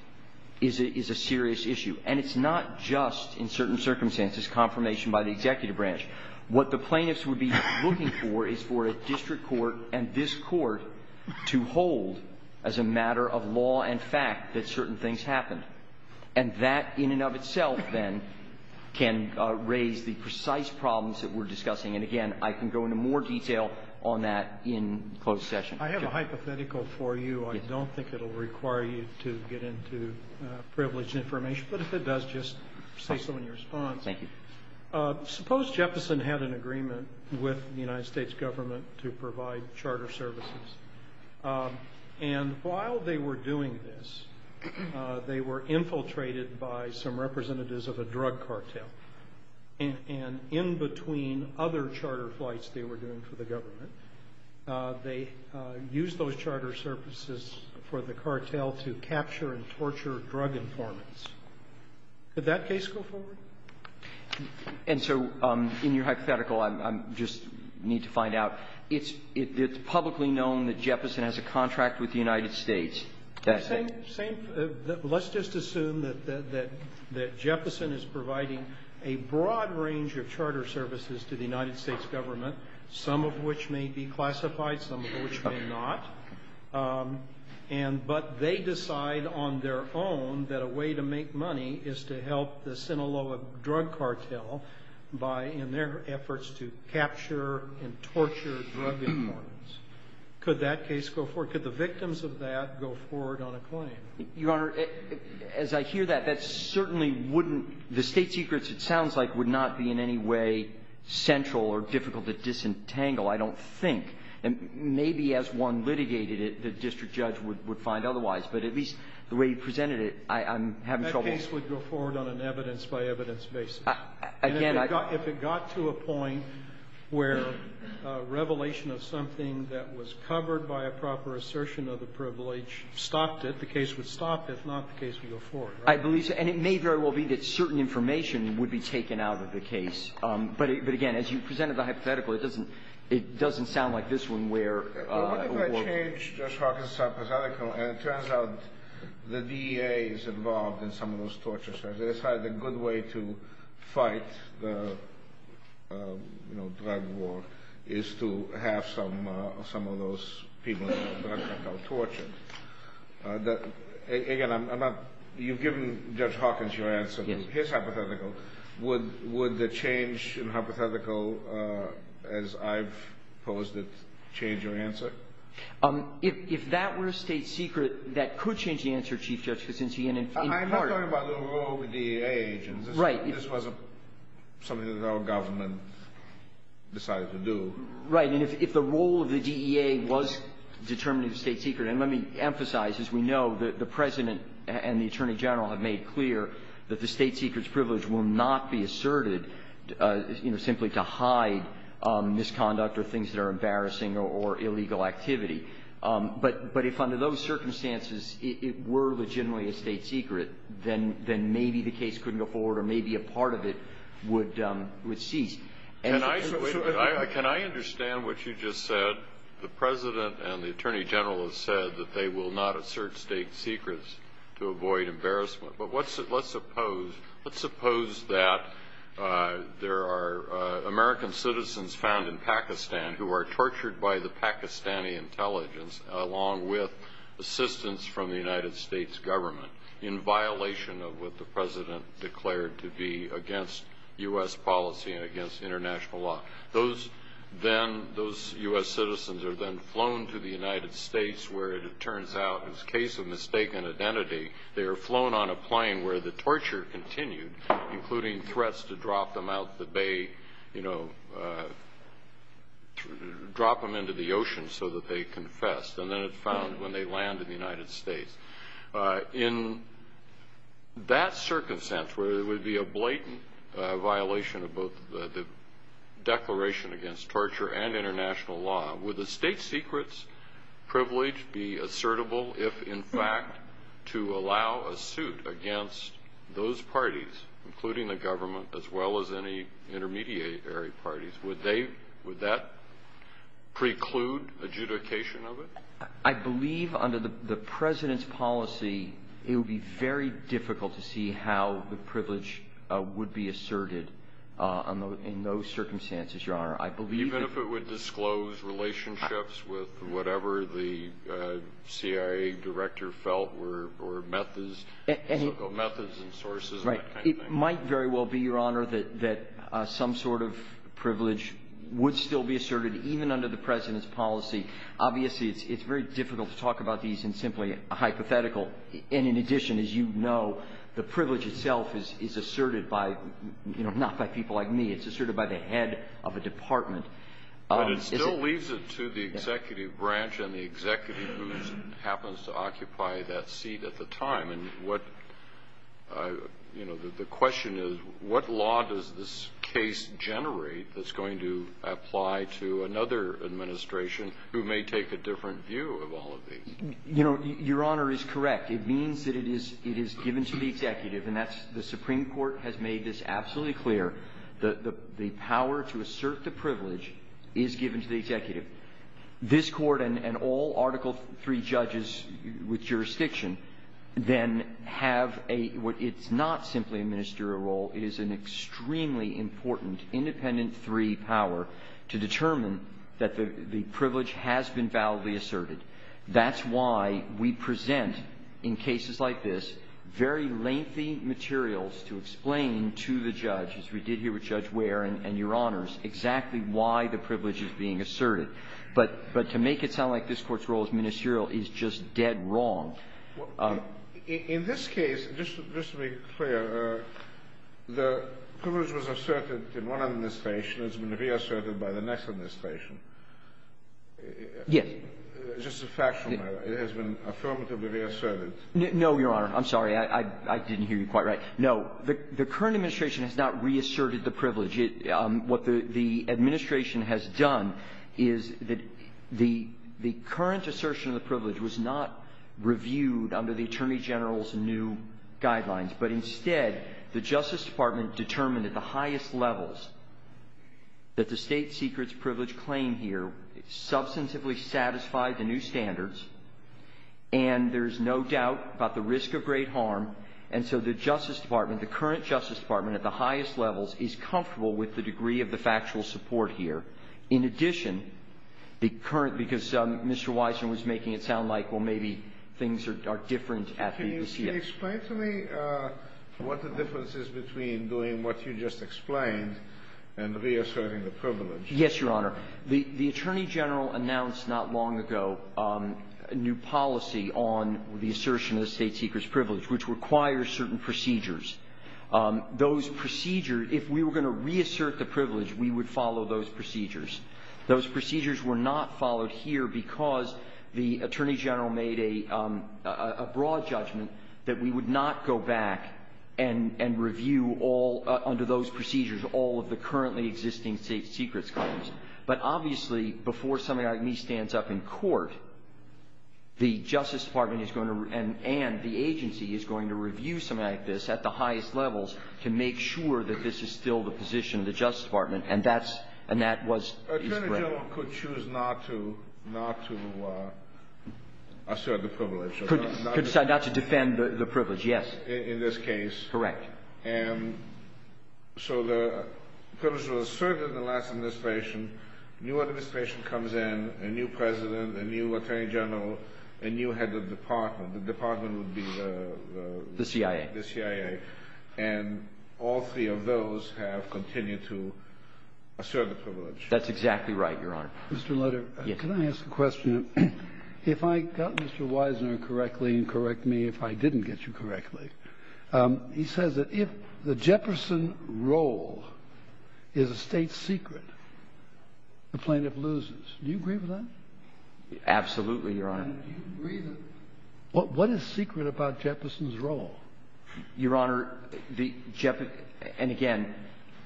is a serious issue. And it's not just, in certain circumstances, confirmation by the executive branch. What the plaintiffs would be looking for is for a district court and this court to hold as a matter of law and fact that certain things happen. And that, in and of itself, then, can raise the precise problems that we're discussing. And again, I can go into more detail on that in closed session. I have a hypothetical for you. I don't think it'll require you to get into privileged information. But if it does, just say so in your response. Thank you. Suppose Jefferson had an agreement with the United States government to provide charter services. And while they were doing this, they were infiltrated by some representatives of a drug cartel. And in between other charter flights they were doing for the government, they used those charter services for the cartel to capture and torture drug informants. Could that case go forward? And so, in your hypothetical, I just need to find out, it's publicly known that Jefferson has a contract with the United States. That's it? Same. Let's just assume that Jefferson is providing a broad range of charter services to the United States government, some of which may be classified, some of which may not. And but they decide on their own that a way to make money is to help the Sinaloa drug cartel in their efforts to capture and torture drug informants. Could that case go forward? Could the victims of that go forward on a claim? Your Honor, as I hear that, that certainly wouldn't, the state secrets it sounds like would not be in any way central or difficult to disentangle, I don't think. Maybe as one litigated it, the district judge would find otherwise. But at least the way you presented it, I'm having trouble. That case would go forward on an evidence by evidence basis. Again, I... If it got to a point where a revelation of something that was covered by a proper assertion of the privilege stopped it, the case would stop, if not the case would go forward. I believe so. And it may very well be that certain information would be taken out of the case. But again, as you presented the hypothetical, it doesn't sound like this one where... What if I change Judge Hawkins' hypothetical and it turns out the DEA is involved in some of those tortures. So they decide the good way to fight the drug war is to have some of those people tortured. Again, I'm not... You've given Judge Hawkins your answer to his hypothetical. Would the change in hypothetical, as I've posed it, change your answer? If that were a state secret, that could change the answer, Chief Justice, in part... I'm not talking about the role of the DEA agents. Right. This wasn't something that our government decided to do. Right. And if the role of the DEA was determining the state secret, and let me emphasize, as we know, that the President and the Attorney General have made clear that the state secret's privilege will not be asserted simply to hide misconduct or things that are embarrassing or illegal activity. But if under those circumstances it were legitimately a state secret, then maybe the case couldn't go forward or maybe a part of it would cease. Can I understand what you just said? The President and the Attorney General have said that they will not assert state secrets to avoid embarrassment. But let's suppose that there are American citizens found in Pakistan who are tortured by the Pakistani intelligence, along with assistance from the United States Government, in violation of what the President declared to be against U.S. policy and against international law. Those U.S. citizens are then flown to the United States where, it turns out, is case of mistaken identity. They are flown on a plane where the torture continued, including threats to drop them out of the bay, drop them into the ocean so that they confess, and then found when they land in the United States. In that circumstance, where it would be a blatant violation of both the declaration against torture and international law, would the state secret's privilege be assertable if, in fact, to allow a suit against those parties, including the government, as well as any intermediary parties? Would they – would that preclude adjudication of it? MR CLEMONS I believe, under the President's policy, it would be very difficult to see how the privilege would be asserted in those circumstances, Your Honor. I believe that — MR GOLDSTEIN It might very well be, Your Honor, that some sort of privilege would still be asserted even under the President's policy. Obviously, it's very difficult to talk about these in simply a hypothetical. And in addition, as you know, the privilege itself is asserted by – not by people like me. It's asserted by the head of a department. QUESTION But it still leaves it to the executive branch and the executive who happens to occupy that seat at the time. And what – the question is, what law does this case generate that's going to apply to another administration who may take a different view of all of these? MR CLEMONS Your Honor is correct. It means that it is given to the executive, and that's – the Supreme Court has made it absolutely clear that the power to assert the privilege is given to the executive. This Court and all Article III judges with jurisdiction then have a – it's not simply a ministerial role. It is an extremely important, independent III power to determine that the privilege has been validly asserted. That's why we present in cases like this very lengthy materials to explain to the judge, as we did here with Judge Ware and Your Honors, exactly why the privilege is being asserted. But to make it sound like this Court's role as ministerial is just dead wrong. QUESTION In this case, just to be clear, the privilege was asserted in one administration. It's going to be asserted by the next administration. MR CLEMONS Yes. QUESTION Just a fact from my – it has been affirmatively MR CLEMONS No, Your Honor. I'm sorry. I didn't hear you quite right. No. The current administration has not reasserted the privilege. What the administration has done is that the current assertion of the privilege was not reviewed under the Attorney General's new guidelines. But instead, the Justice Department determined at the highest levels that the state secrets claim here substantively satisfy the new standards, and there's no doubt about the risk of great harm. And so the Justice Department, the current Justice Department, at the highest levels is comfortable with the degree of the factual support here. In addition, the current – because Mr. Weissman was making it sound like, well, maybe things are different at the DCF. QUESTION Can you explain to me what the difference is between doing what you just explained and reasserting the privilege? MR CLEMONS Yes, Your Honor. The Attorney General announced not long ago a new policy on the assertion of the state secrets privilege, which requires certain procedures. Those procedures – if we were going to reassert the privilege, we would follow those procedures. Those procedures were not followed here because the Attorney General made a broad judgment that we would not go back and review all – under those procedures, all of the currently existing state secrets claims. But obviously, before somebody like me stands up in court, the Justice Department is going to – and the agency is going to review somebody like this at the highest levels to make sure that this is still the position of the Justice Department, and that's – and that was – he's correct. QUESTION The Attorney General could choose not to – not to assert the privilege, right? MR CLEMONS Could decide not to defend the privilege, yes. QUESTION In this case? MR CLEMONS Correct. And so the privilege was asserted in the last administration. New administration comes in, a new president, a new attorney general, a new head of department. The department would be the – MR CLEMONS The CIA. MR CLEMONS The CIA. And all three of those have continued to assert the privilege. MR CLEMONS That's exactly right, Your Honor. QUESTION Mr. Lutter? MR CLEMONS Yes. QUESTION Can I ask a question? If I got Mr. Wisener correctly – and correct me if I didn't get you correctly – he says that if the Jefferson role is a state secret, the plaintiff loses. Do you agree with that? MR CLEMONS Absolutely, Your Honor. QUESTION And do you agree that – what is secret about Jefferson's role? MR CLEMONS Your Honor, the – and again,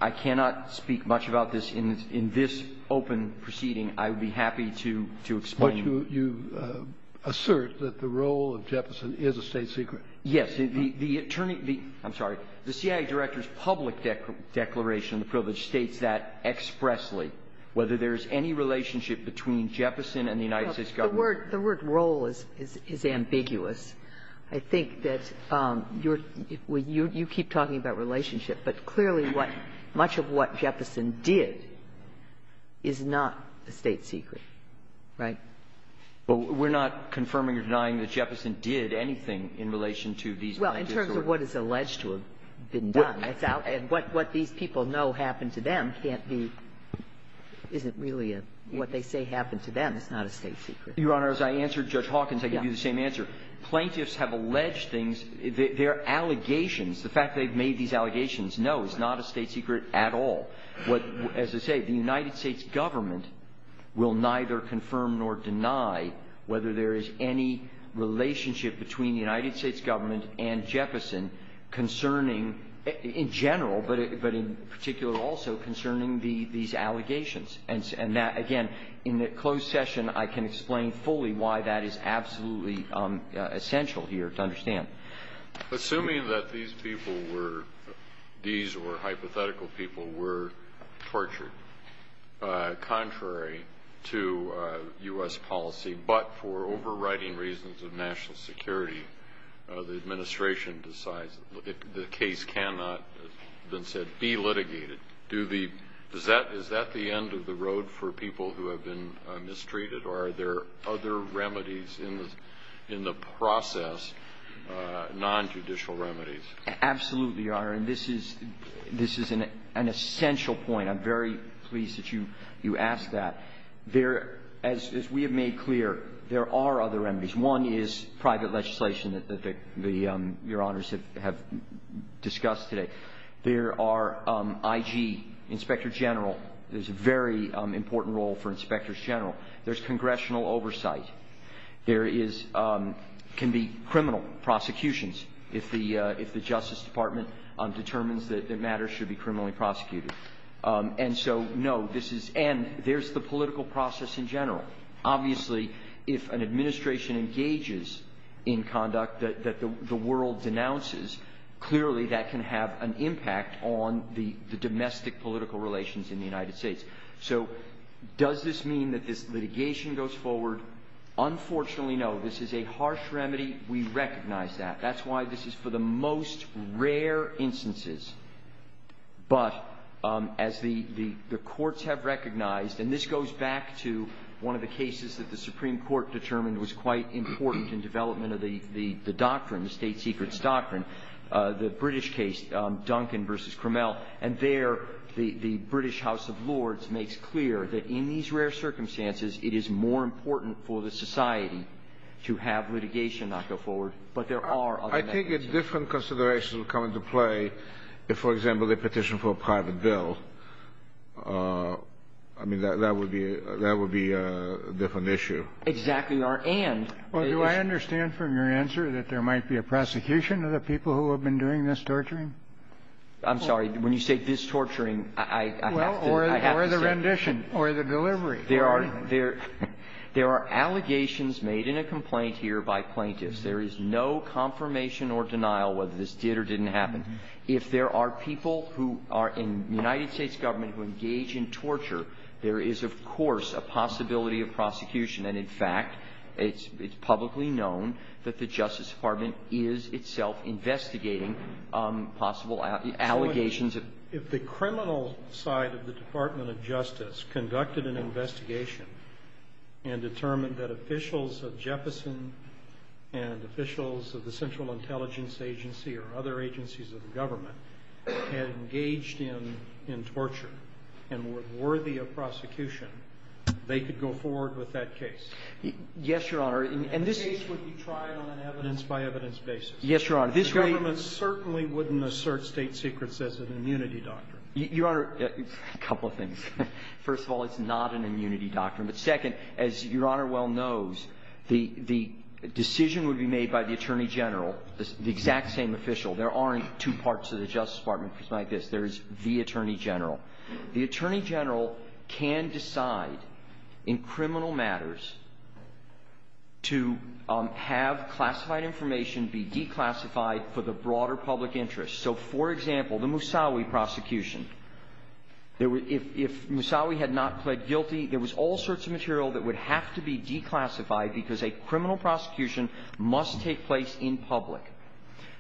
I cannot speak much about this in this open proceeding. I would be happy to explain. QUESTION But you assert that the role of Jefferson is a state secret. MR CLEMONS Yes. The – I'm sorry. The CIA director's public declaration of privilege states that expressly, whether there's any relationship between Jefferson and the United States Government. QUESTION The word role is ambiguous. I think that you're – you keep talking about relationship, but clearly what – much of what Jefferson did is not a state secret, right? MR CLEMONS Well, we're not confirming or denying that it's a state secret. QUESTION Well, in terms of what is alleged to have been done, I thought – and what these people know happened to them can't be – isn't really what they say happened to them. It's not a state secret. MR CLEMONS Your Honor, as I answered Judge Hawkins, I can give you the same answer. Plaintiffs have alleged things – their allegations – the fact they've made these allegations – no, it's not a state secret at all. What – as I say, the United States Government will neither confirm nor deny whether there is any relationship between the United States Government and Jefferson concerning – in general, but in particular also concerning these allegations. And that – again, in the closed session, I can explain fully why that is absolutely essential here to understand. QUESTION Assuming that these people were – these or writing reasons of national security, the Administration decides that the case cannot, then said, be litigated, do the – is that the end of the road for people who have been mistreated? Or are there other remedies in the process, non-judicial remedies? MR CLEMONS Absolutely, Your Honor. And this is an essential point. I'm very pleased that you asked that. There – as we have made clear, there are other remedies. One is private legislation that the – Your Honors have discussed today. There are IG, inspector general – there's a very important role for inspectors general. There's congressional oversight. There is – can be criminal prosecutions if the Justice Department determines that matters should be criminally prosecuted. And so, no, this is – and there's the political process in general. Obviously, if an administration engages in conduct that the world denounces, clearly that can have an impact on the domestic political relations in the United States. So does this mean that this litigation goes forward? Unfortunately, no. This is a harsh remedy. We recognize that. That's why this is for the most rare instances. But as the courts have recognized – and this goes back to one of the cases that the Supreme Court determined was quite important in development of the doctrine, the state secrets doctrine, the British case, Duncan v. Cromel. And there, the British House of Lords makes clear that in these rare circumstances, it is more important for the society to have litigation not go forward. But there are other mechanisms. There are – there are allegations made in a complaint here by plaintiffs. There is no confirmation or denial whether this did or didn't happen. If there are people who are in the United States Government who engage in torture, there is, of course, a possibility of prosecution. And in fact, it's publicly known that the Justice Department is itself investigating possible allegations of – QUESTIONER 1 If the criminal side of the Department of Justice conducted an investigation and determined that officials of Jefferson and officials of the Central Intelligence Agency or other agencies of the government had engaged in torture and were worthy of prosecution, they could go forward with that case? MR. BOUTROUS Yes, Your Honor. And this – QUESTIONER 1 And the case would be tried on an evidence-by-evidence basis? MR. BOUTROUS Yes, Your Honor. QUESTIONER 1 The government certainly wouldn't assert state secrets as an immunity doctrine. MR. BOUTROUS You are – a couple of things. First of all, it's not an immunity doctrine. But second, as Your Honor well knows, the decision would be made by the attorney general, the exact same official. There aren't two parts of the Justice Department, just like this. There is the attorney general. The attorney general can decide in criminal matters to have classified information be declassified for the broader public interest. So for example, the Moussaoui prosecution, if Moussaoui had not pled guilty, there was all sorts of material that would have to be declassified because a criminal prosecution must take place in public.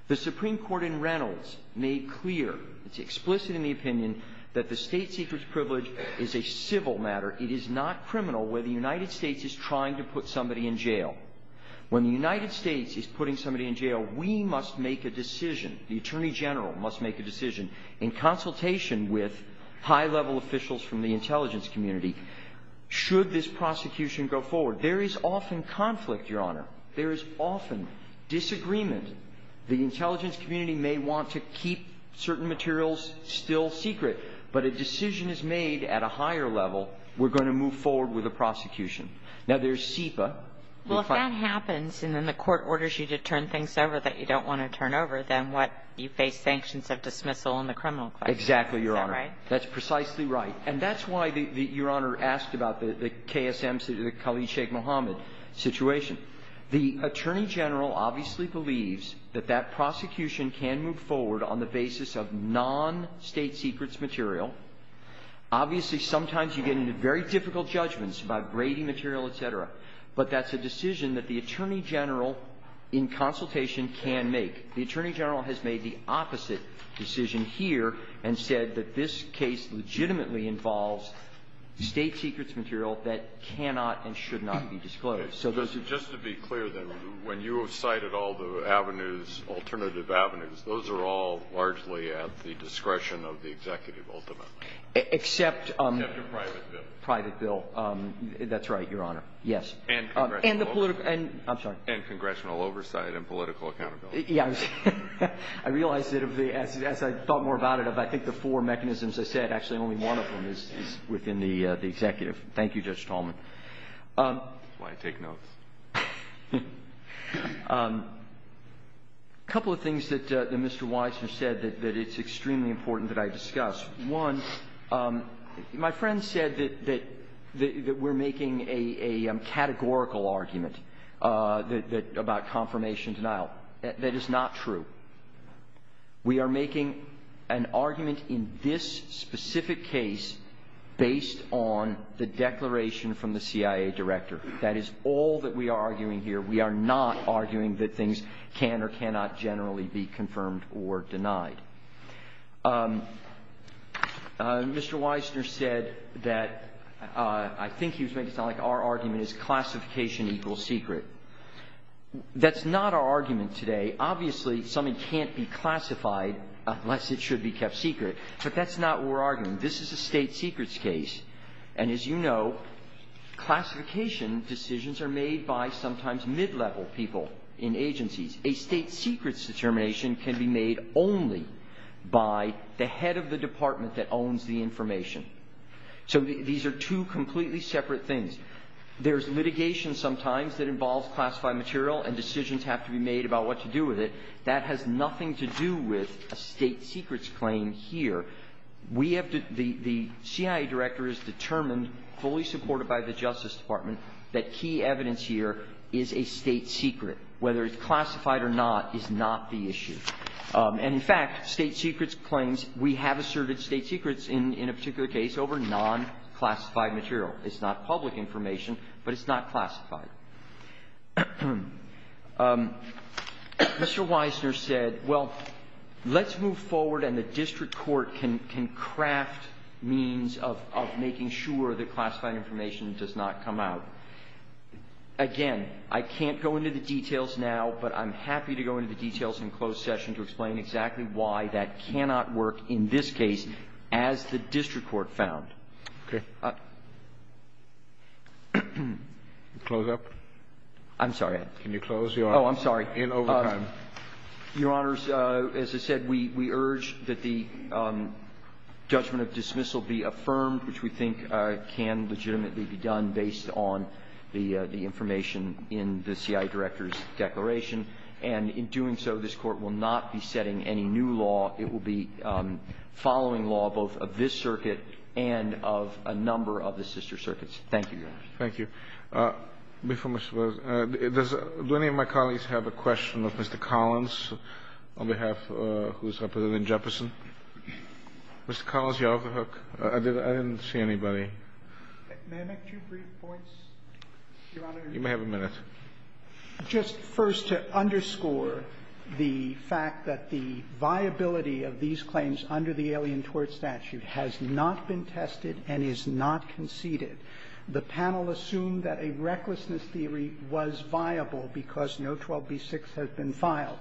The Supreme Court in Reynolds made clear – it's explicit in the opinion – that the state secrets privilege is a civil matter. It is not criminal where the United States is trying to put somebody in jail. When the United States is putting somebody in jail, we must make a decision. The attorney general must make a decision in consultation with high-level officials from the intelligence community should this prosecution go forward. There is often conflict, Your Honor. There is often disagreement. The intelligence community may want to keep certain materials still secret, but a decision is made at a higher level. We're going to move forward with a prosecution. Now, there's SIPA. OPERATOR Well, if that happens and then the court orders you to turn things over that you don't want to turn over, then what? You face sanctions, a dismissal, and a criminal case. GOLDSTEIN Exactly, Your Honor. OPERATOR Is that right? MR. GOLDSTEIN That's precisely right. And that's why Your Honor asked about the KSM, the Khalid Sheikh Mohammed situation. The attorney general obviously believes that that prosecution can move forward on the basis of non-state secrets material. Obviously, sometimes you get into very difficult judgments about grating material, et cetera, but that's a decision that the attorney general in consultation can make. The attorney general has made the opposite decision here and said that this case legitimately involves state secrets material that cannot and should not be disclosed. So those are— OPERATOR Just to be clear then, when you have cited all the avenues, alternative avenues, those are all largely at the discretion of the executive ultimate? MR. GOLDSTEIN Except— OPERATOR Except a private bill. MR. GOLDSTEIN —private bill. That's right, Your Honor. Yes. OPERATOR And congressional oversight— MR. GOLDSTEIN I'm sorry. OPERATOR And congressional oversight and political accountability. MR. GOLDSTEIN Yeah. I realized that as I thought more about it, I think the four mechanisms I said, actually only one of them is within the executive. Thank you, Judge Tallman. OPERATOR I take notes. MR. GOLDSTEIN A couple of things that Mr. Watson said that it's extremely important that I discuss. One, my friend said that we're making a categorical argument about confirmations and out. That is not true. We are making an argument in this specific case based on the declaration from the CIA director. That is all that we are arguing here. We are not arguing that things can or cannot generally be confirmed or denied. Mr. Weissner said that I think he was making it sound like our argument is classification equals secret. That's not our argument today. Obviously, something can't be classified unless it should be kept secret. But that's not what we're arguing. This is a state secrets case. And as you know, classification decisions are made by sometimes mid-level people in agencies. A state secrets determination can be made only by the head of the department that owns the information. So these are two completely separate things. There's litigation sometimes that involves classified material and decisions have to be made about what to do with it. That has nothing to do with a state secrets claim here. The CIA director is determined, fully supported by the Justice Department, that key evidence here is a state secret. Whether it's classified or not is not the issue. And in fact, state secrets claims, we have asserted state secrets in a particular case over non-classified material. It's not public information, but it's not classified. Mr. Weissner said, well, let's move forward and the district court can craft means of making sure that classified information does not come out. Again, I can't go into the details now, but I'm happy to go into the details in a closed session to explain exactly why that cannot work in this case, as the district court found. Okay. Close up? I'm sorry. Can you close? Oh, I'm sorry. Your Honors, as I said, we urge that the judgment of dismissal be affirmed, which we think can legitimately be done based on the information in the CIA director's declaration. And in doing so, this court will not be setting any new law. It will be following law, both of this circuit and of a number of the sister circuits. Thank you, Your Honors. Thank you. Before we close, does any of my colleagues have a question of Mr. Collins on behalf of who is representing Jefferson? Mr. Collins, you have the hook. I didn't see anybody. May I make two brief points, Your Honors? You may have a minute. Just first to underscore the fact that the viability of these claims under the Alien Tort Statute has not been tested and is not conceded. The panel assumed that a recklessness theory was viable because no 12B6 has been filed.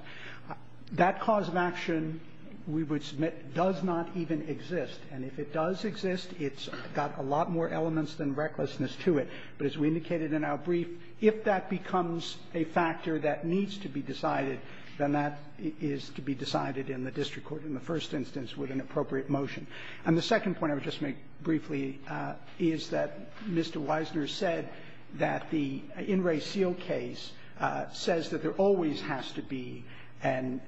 That cause of action, we would submit, does not even exist. And if it does exist, it's got a lot more elements than recklessness to it. But as we indicated in our brief, if that becomes a factor that needs to be decided, then that is to be decided in the district court in the first instance with an appropriate motion. And the second point I would just make briefly is that Mr. Wisner said that the In Re Seal case says that there always has to be an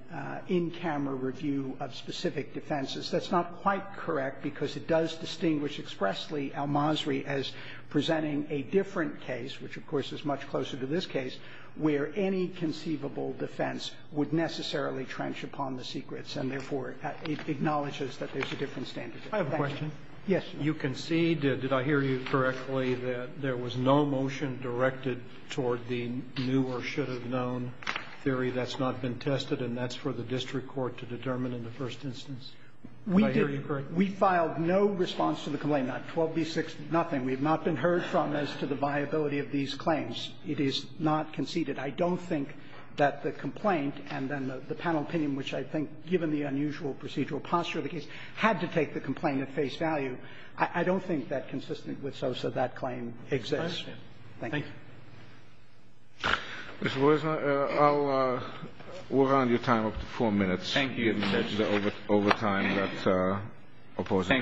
in-camera review of specific defenses. That's not quite correct because it does distinguish expressly Al-Masri as presenting a different case, which, of course, is much closer to this case, where any conceivable defense would necessarily trench upon the secrets. And therefore, it acknowledges that there's a different standard. I have a question. Yes. You concede, did I hear you correctly, that there was no motion directed toward the new or should have known theory that's not been tested, and that's for the district court to determine in the first instance? We filed no response to the complaint, not 12D6, nothing. We have not been heard from as to the viability of these claims. It is not conceded. I don't think that the complaint and then the panel opinion, which I think, given the unusual procedural posture of the case, had to take the complaint at face value. I don't think that consistent with SOSA, that claim exists. Thank you. I'll work on your time of four minutes. Thank you. Thank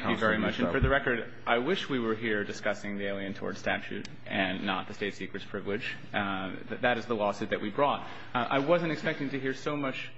you very much. And for the record, I wish we were here discussing the Alien Towards Statute and not the State Seeker's Privilege, but that is the lawsuit that we brought. I wasn't expecting to hear so much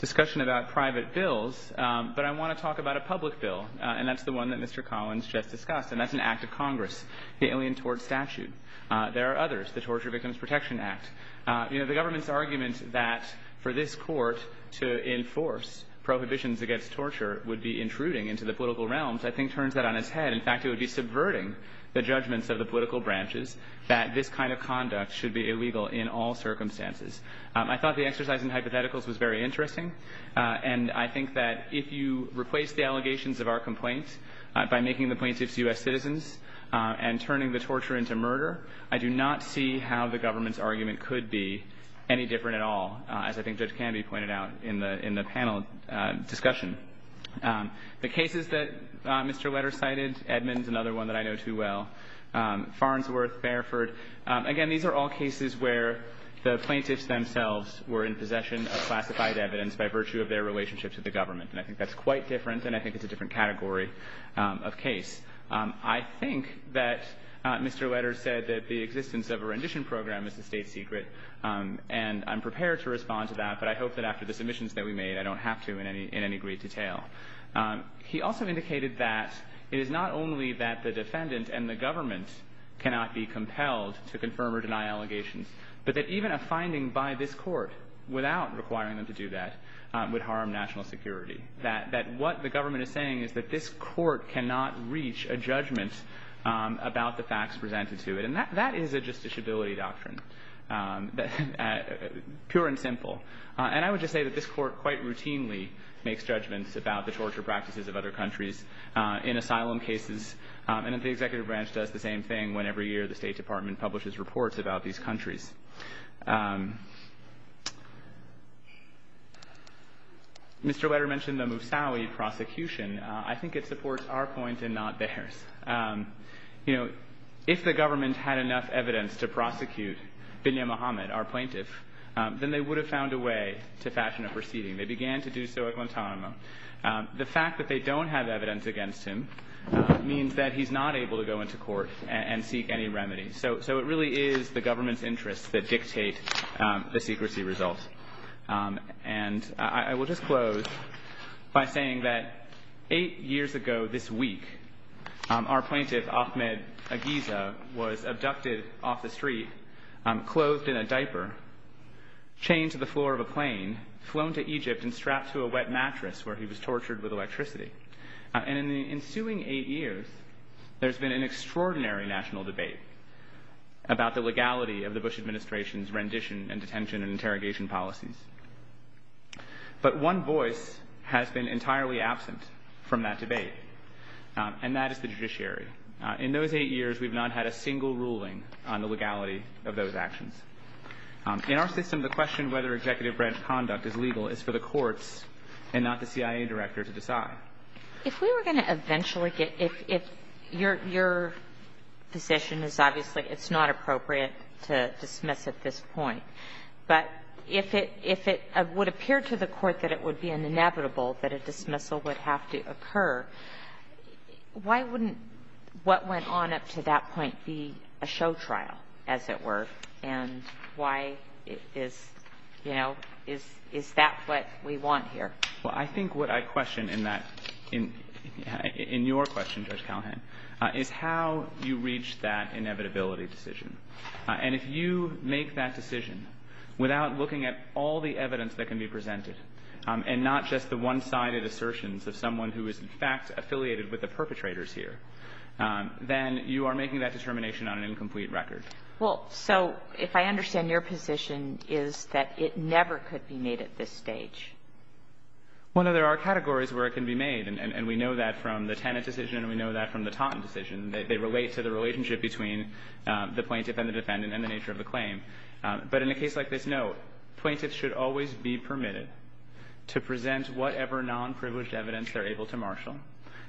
discussion about private bills, but I want to talk about a public bill, and that's the one that Mr. Collins just discussed, and that's an Act of Congress, the Alien Towards Statute. There are others, the Torture Victims Protection Act. The government's argument that for this court to enforce prohibitions against torture would be intruding into the political realms, I think, turns that on its head. In fact, it would be subverting the judgments of the political branches that this kind of conduct should be illegal in all circumstances. I thought the exercise in hypotheticals was very interesting, and I think that if you replace the allegations of our complaint by making the plaintiffs U.S. citizens and turning the torture into murder, I do not see how the government's argument could be any different at all, as I think this can be pointed out in the panel discussion. The cases that Mr. Letters cited, Edmonds, another one that I know too well, Farnsworth, Bareford, again, these are all cases where the plaintiffs themselves were in possession of classified evidence by virtue of their relationship to the government, and I think that's quite different, and I think it's a different category of case. I think that Mr. Letters said that the existence of a rendition program is a state secret, and I'm prepared to respond to that, but I hope that after the submissions that we made, I don't have to in any great detail. He also indicated that it is not only that the defendant and the government cannot be compelled to confirm or deny allegations, but that even a finding by this court without requiring them to do that would harm national security, that what the government is saying is that this court cannot reach a judgment about the facts presented to it, and that is a justiciability doctrine, pure and simple, and I would just say that this court quite much does the same thing when it comes to the practices of other countries in asylum cases, and the executive branch does the same thing when every year the State Department publishes reports about these countries. Mr. Letters mentioned the Moussaoui prosecution. I think it supports our point and not theirs. If the government had enough evidence to prosecute Binyam Mohamed, our plaintiff, then they would have found a way to fashion a proceeding. They began to do so at Guantanamo. The fact that they don't have evidence against him means that he's not able to go into court and seek any remedy. So it really is the government's interests that dictate the secrecy results, and I will just close by saying that eight years ago this week, our plaintiff, Ahmed Agiza, was abducted off the street, closed in a diaper, chained to the floor of a plane, flown to Egypt, and strapped to a wet mattress where he was tortured with electricity. And in the ensuing eight years, there's been an extraordinary national debate about the legality of the Bush Administration's rendition and detention and interrogation policies. But one voice has been entirely absent from that debate, and that is the judiciary. In those eight years, we've not had a single ruling on the legality of those actions. In our system, the question of whether executive branch conduct is legal is for the courts and not the CIA director to decide. If we were going to eventually get it, your decision is obviously it's not appropriate to dismiss at this point. But if it would appear to the court that it would be an inevitable that a dismissal would have to occur, why wouldn't what went on up to that point be a show trial, as it were, and why is – you know, is that what we want here? BOUTROUS. I think what I question in that – in your question, Judge Callahan, is how you reach that inevitability decision. And if you make that decision without looking at all the evidence that can be presented and not just the one-sided assertions of someone who is, in fact, affiliated with the perpetrators here, then you are making that determination on an incomplete record. Well, so if I understand, your position is that it never could be made at this stage. Well, there are categories where it can be made, and we know that from the TANF decision, and we know that from the Taunton decision. They relate to the relationship between the plaintiff and the defendant and the nature of the claim. But in a case like this, no, plaintiffs should always be permitted to present whatever non-privileged evidence they're able to marshal,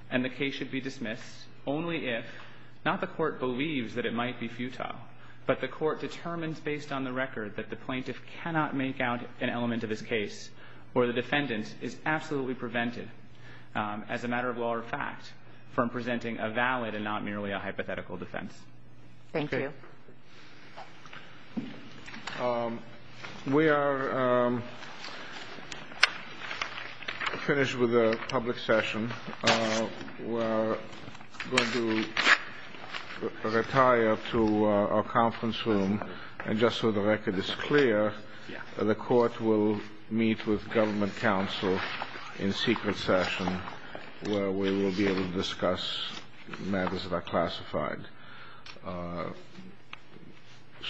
and the case should be dismissed only if not the court believes that it might be futile. But the court determines, based on the record, that the plaintiff cannot make out an element of his case or the defendant is absolutely prevented, as a matter of law or fact, from presenting a valid and not merely a hypothetical defense. Thank you. We are finished with the public session. We're going to retire to our conference room. And just so the record is clear, the court will meet with government counsel in secret session, where we will be able to discuss matters that are classified.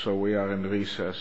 So we are in recess.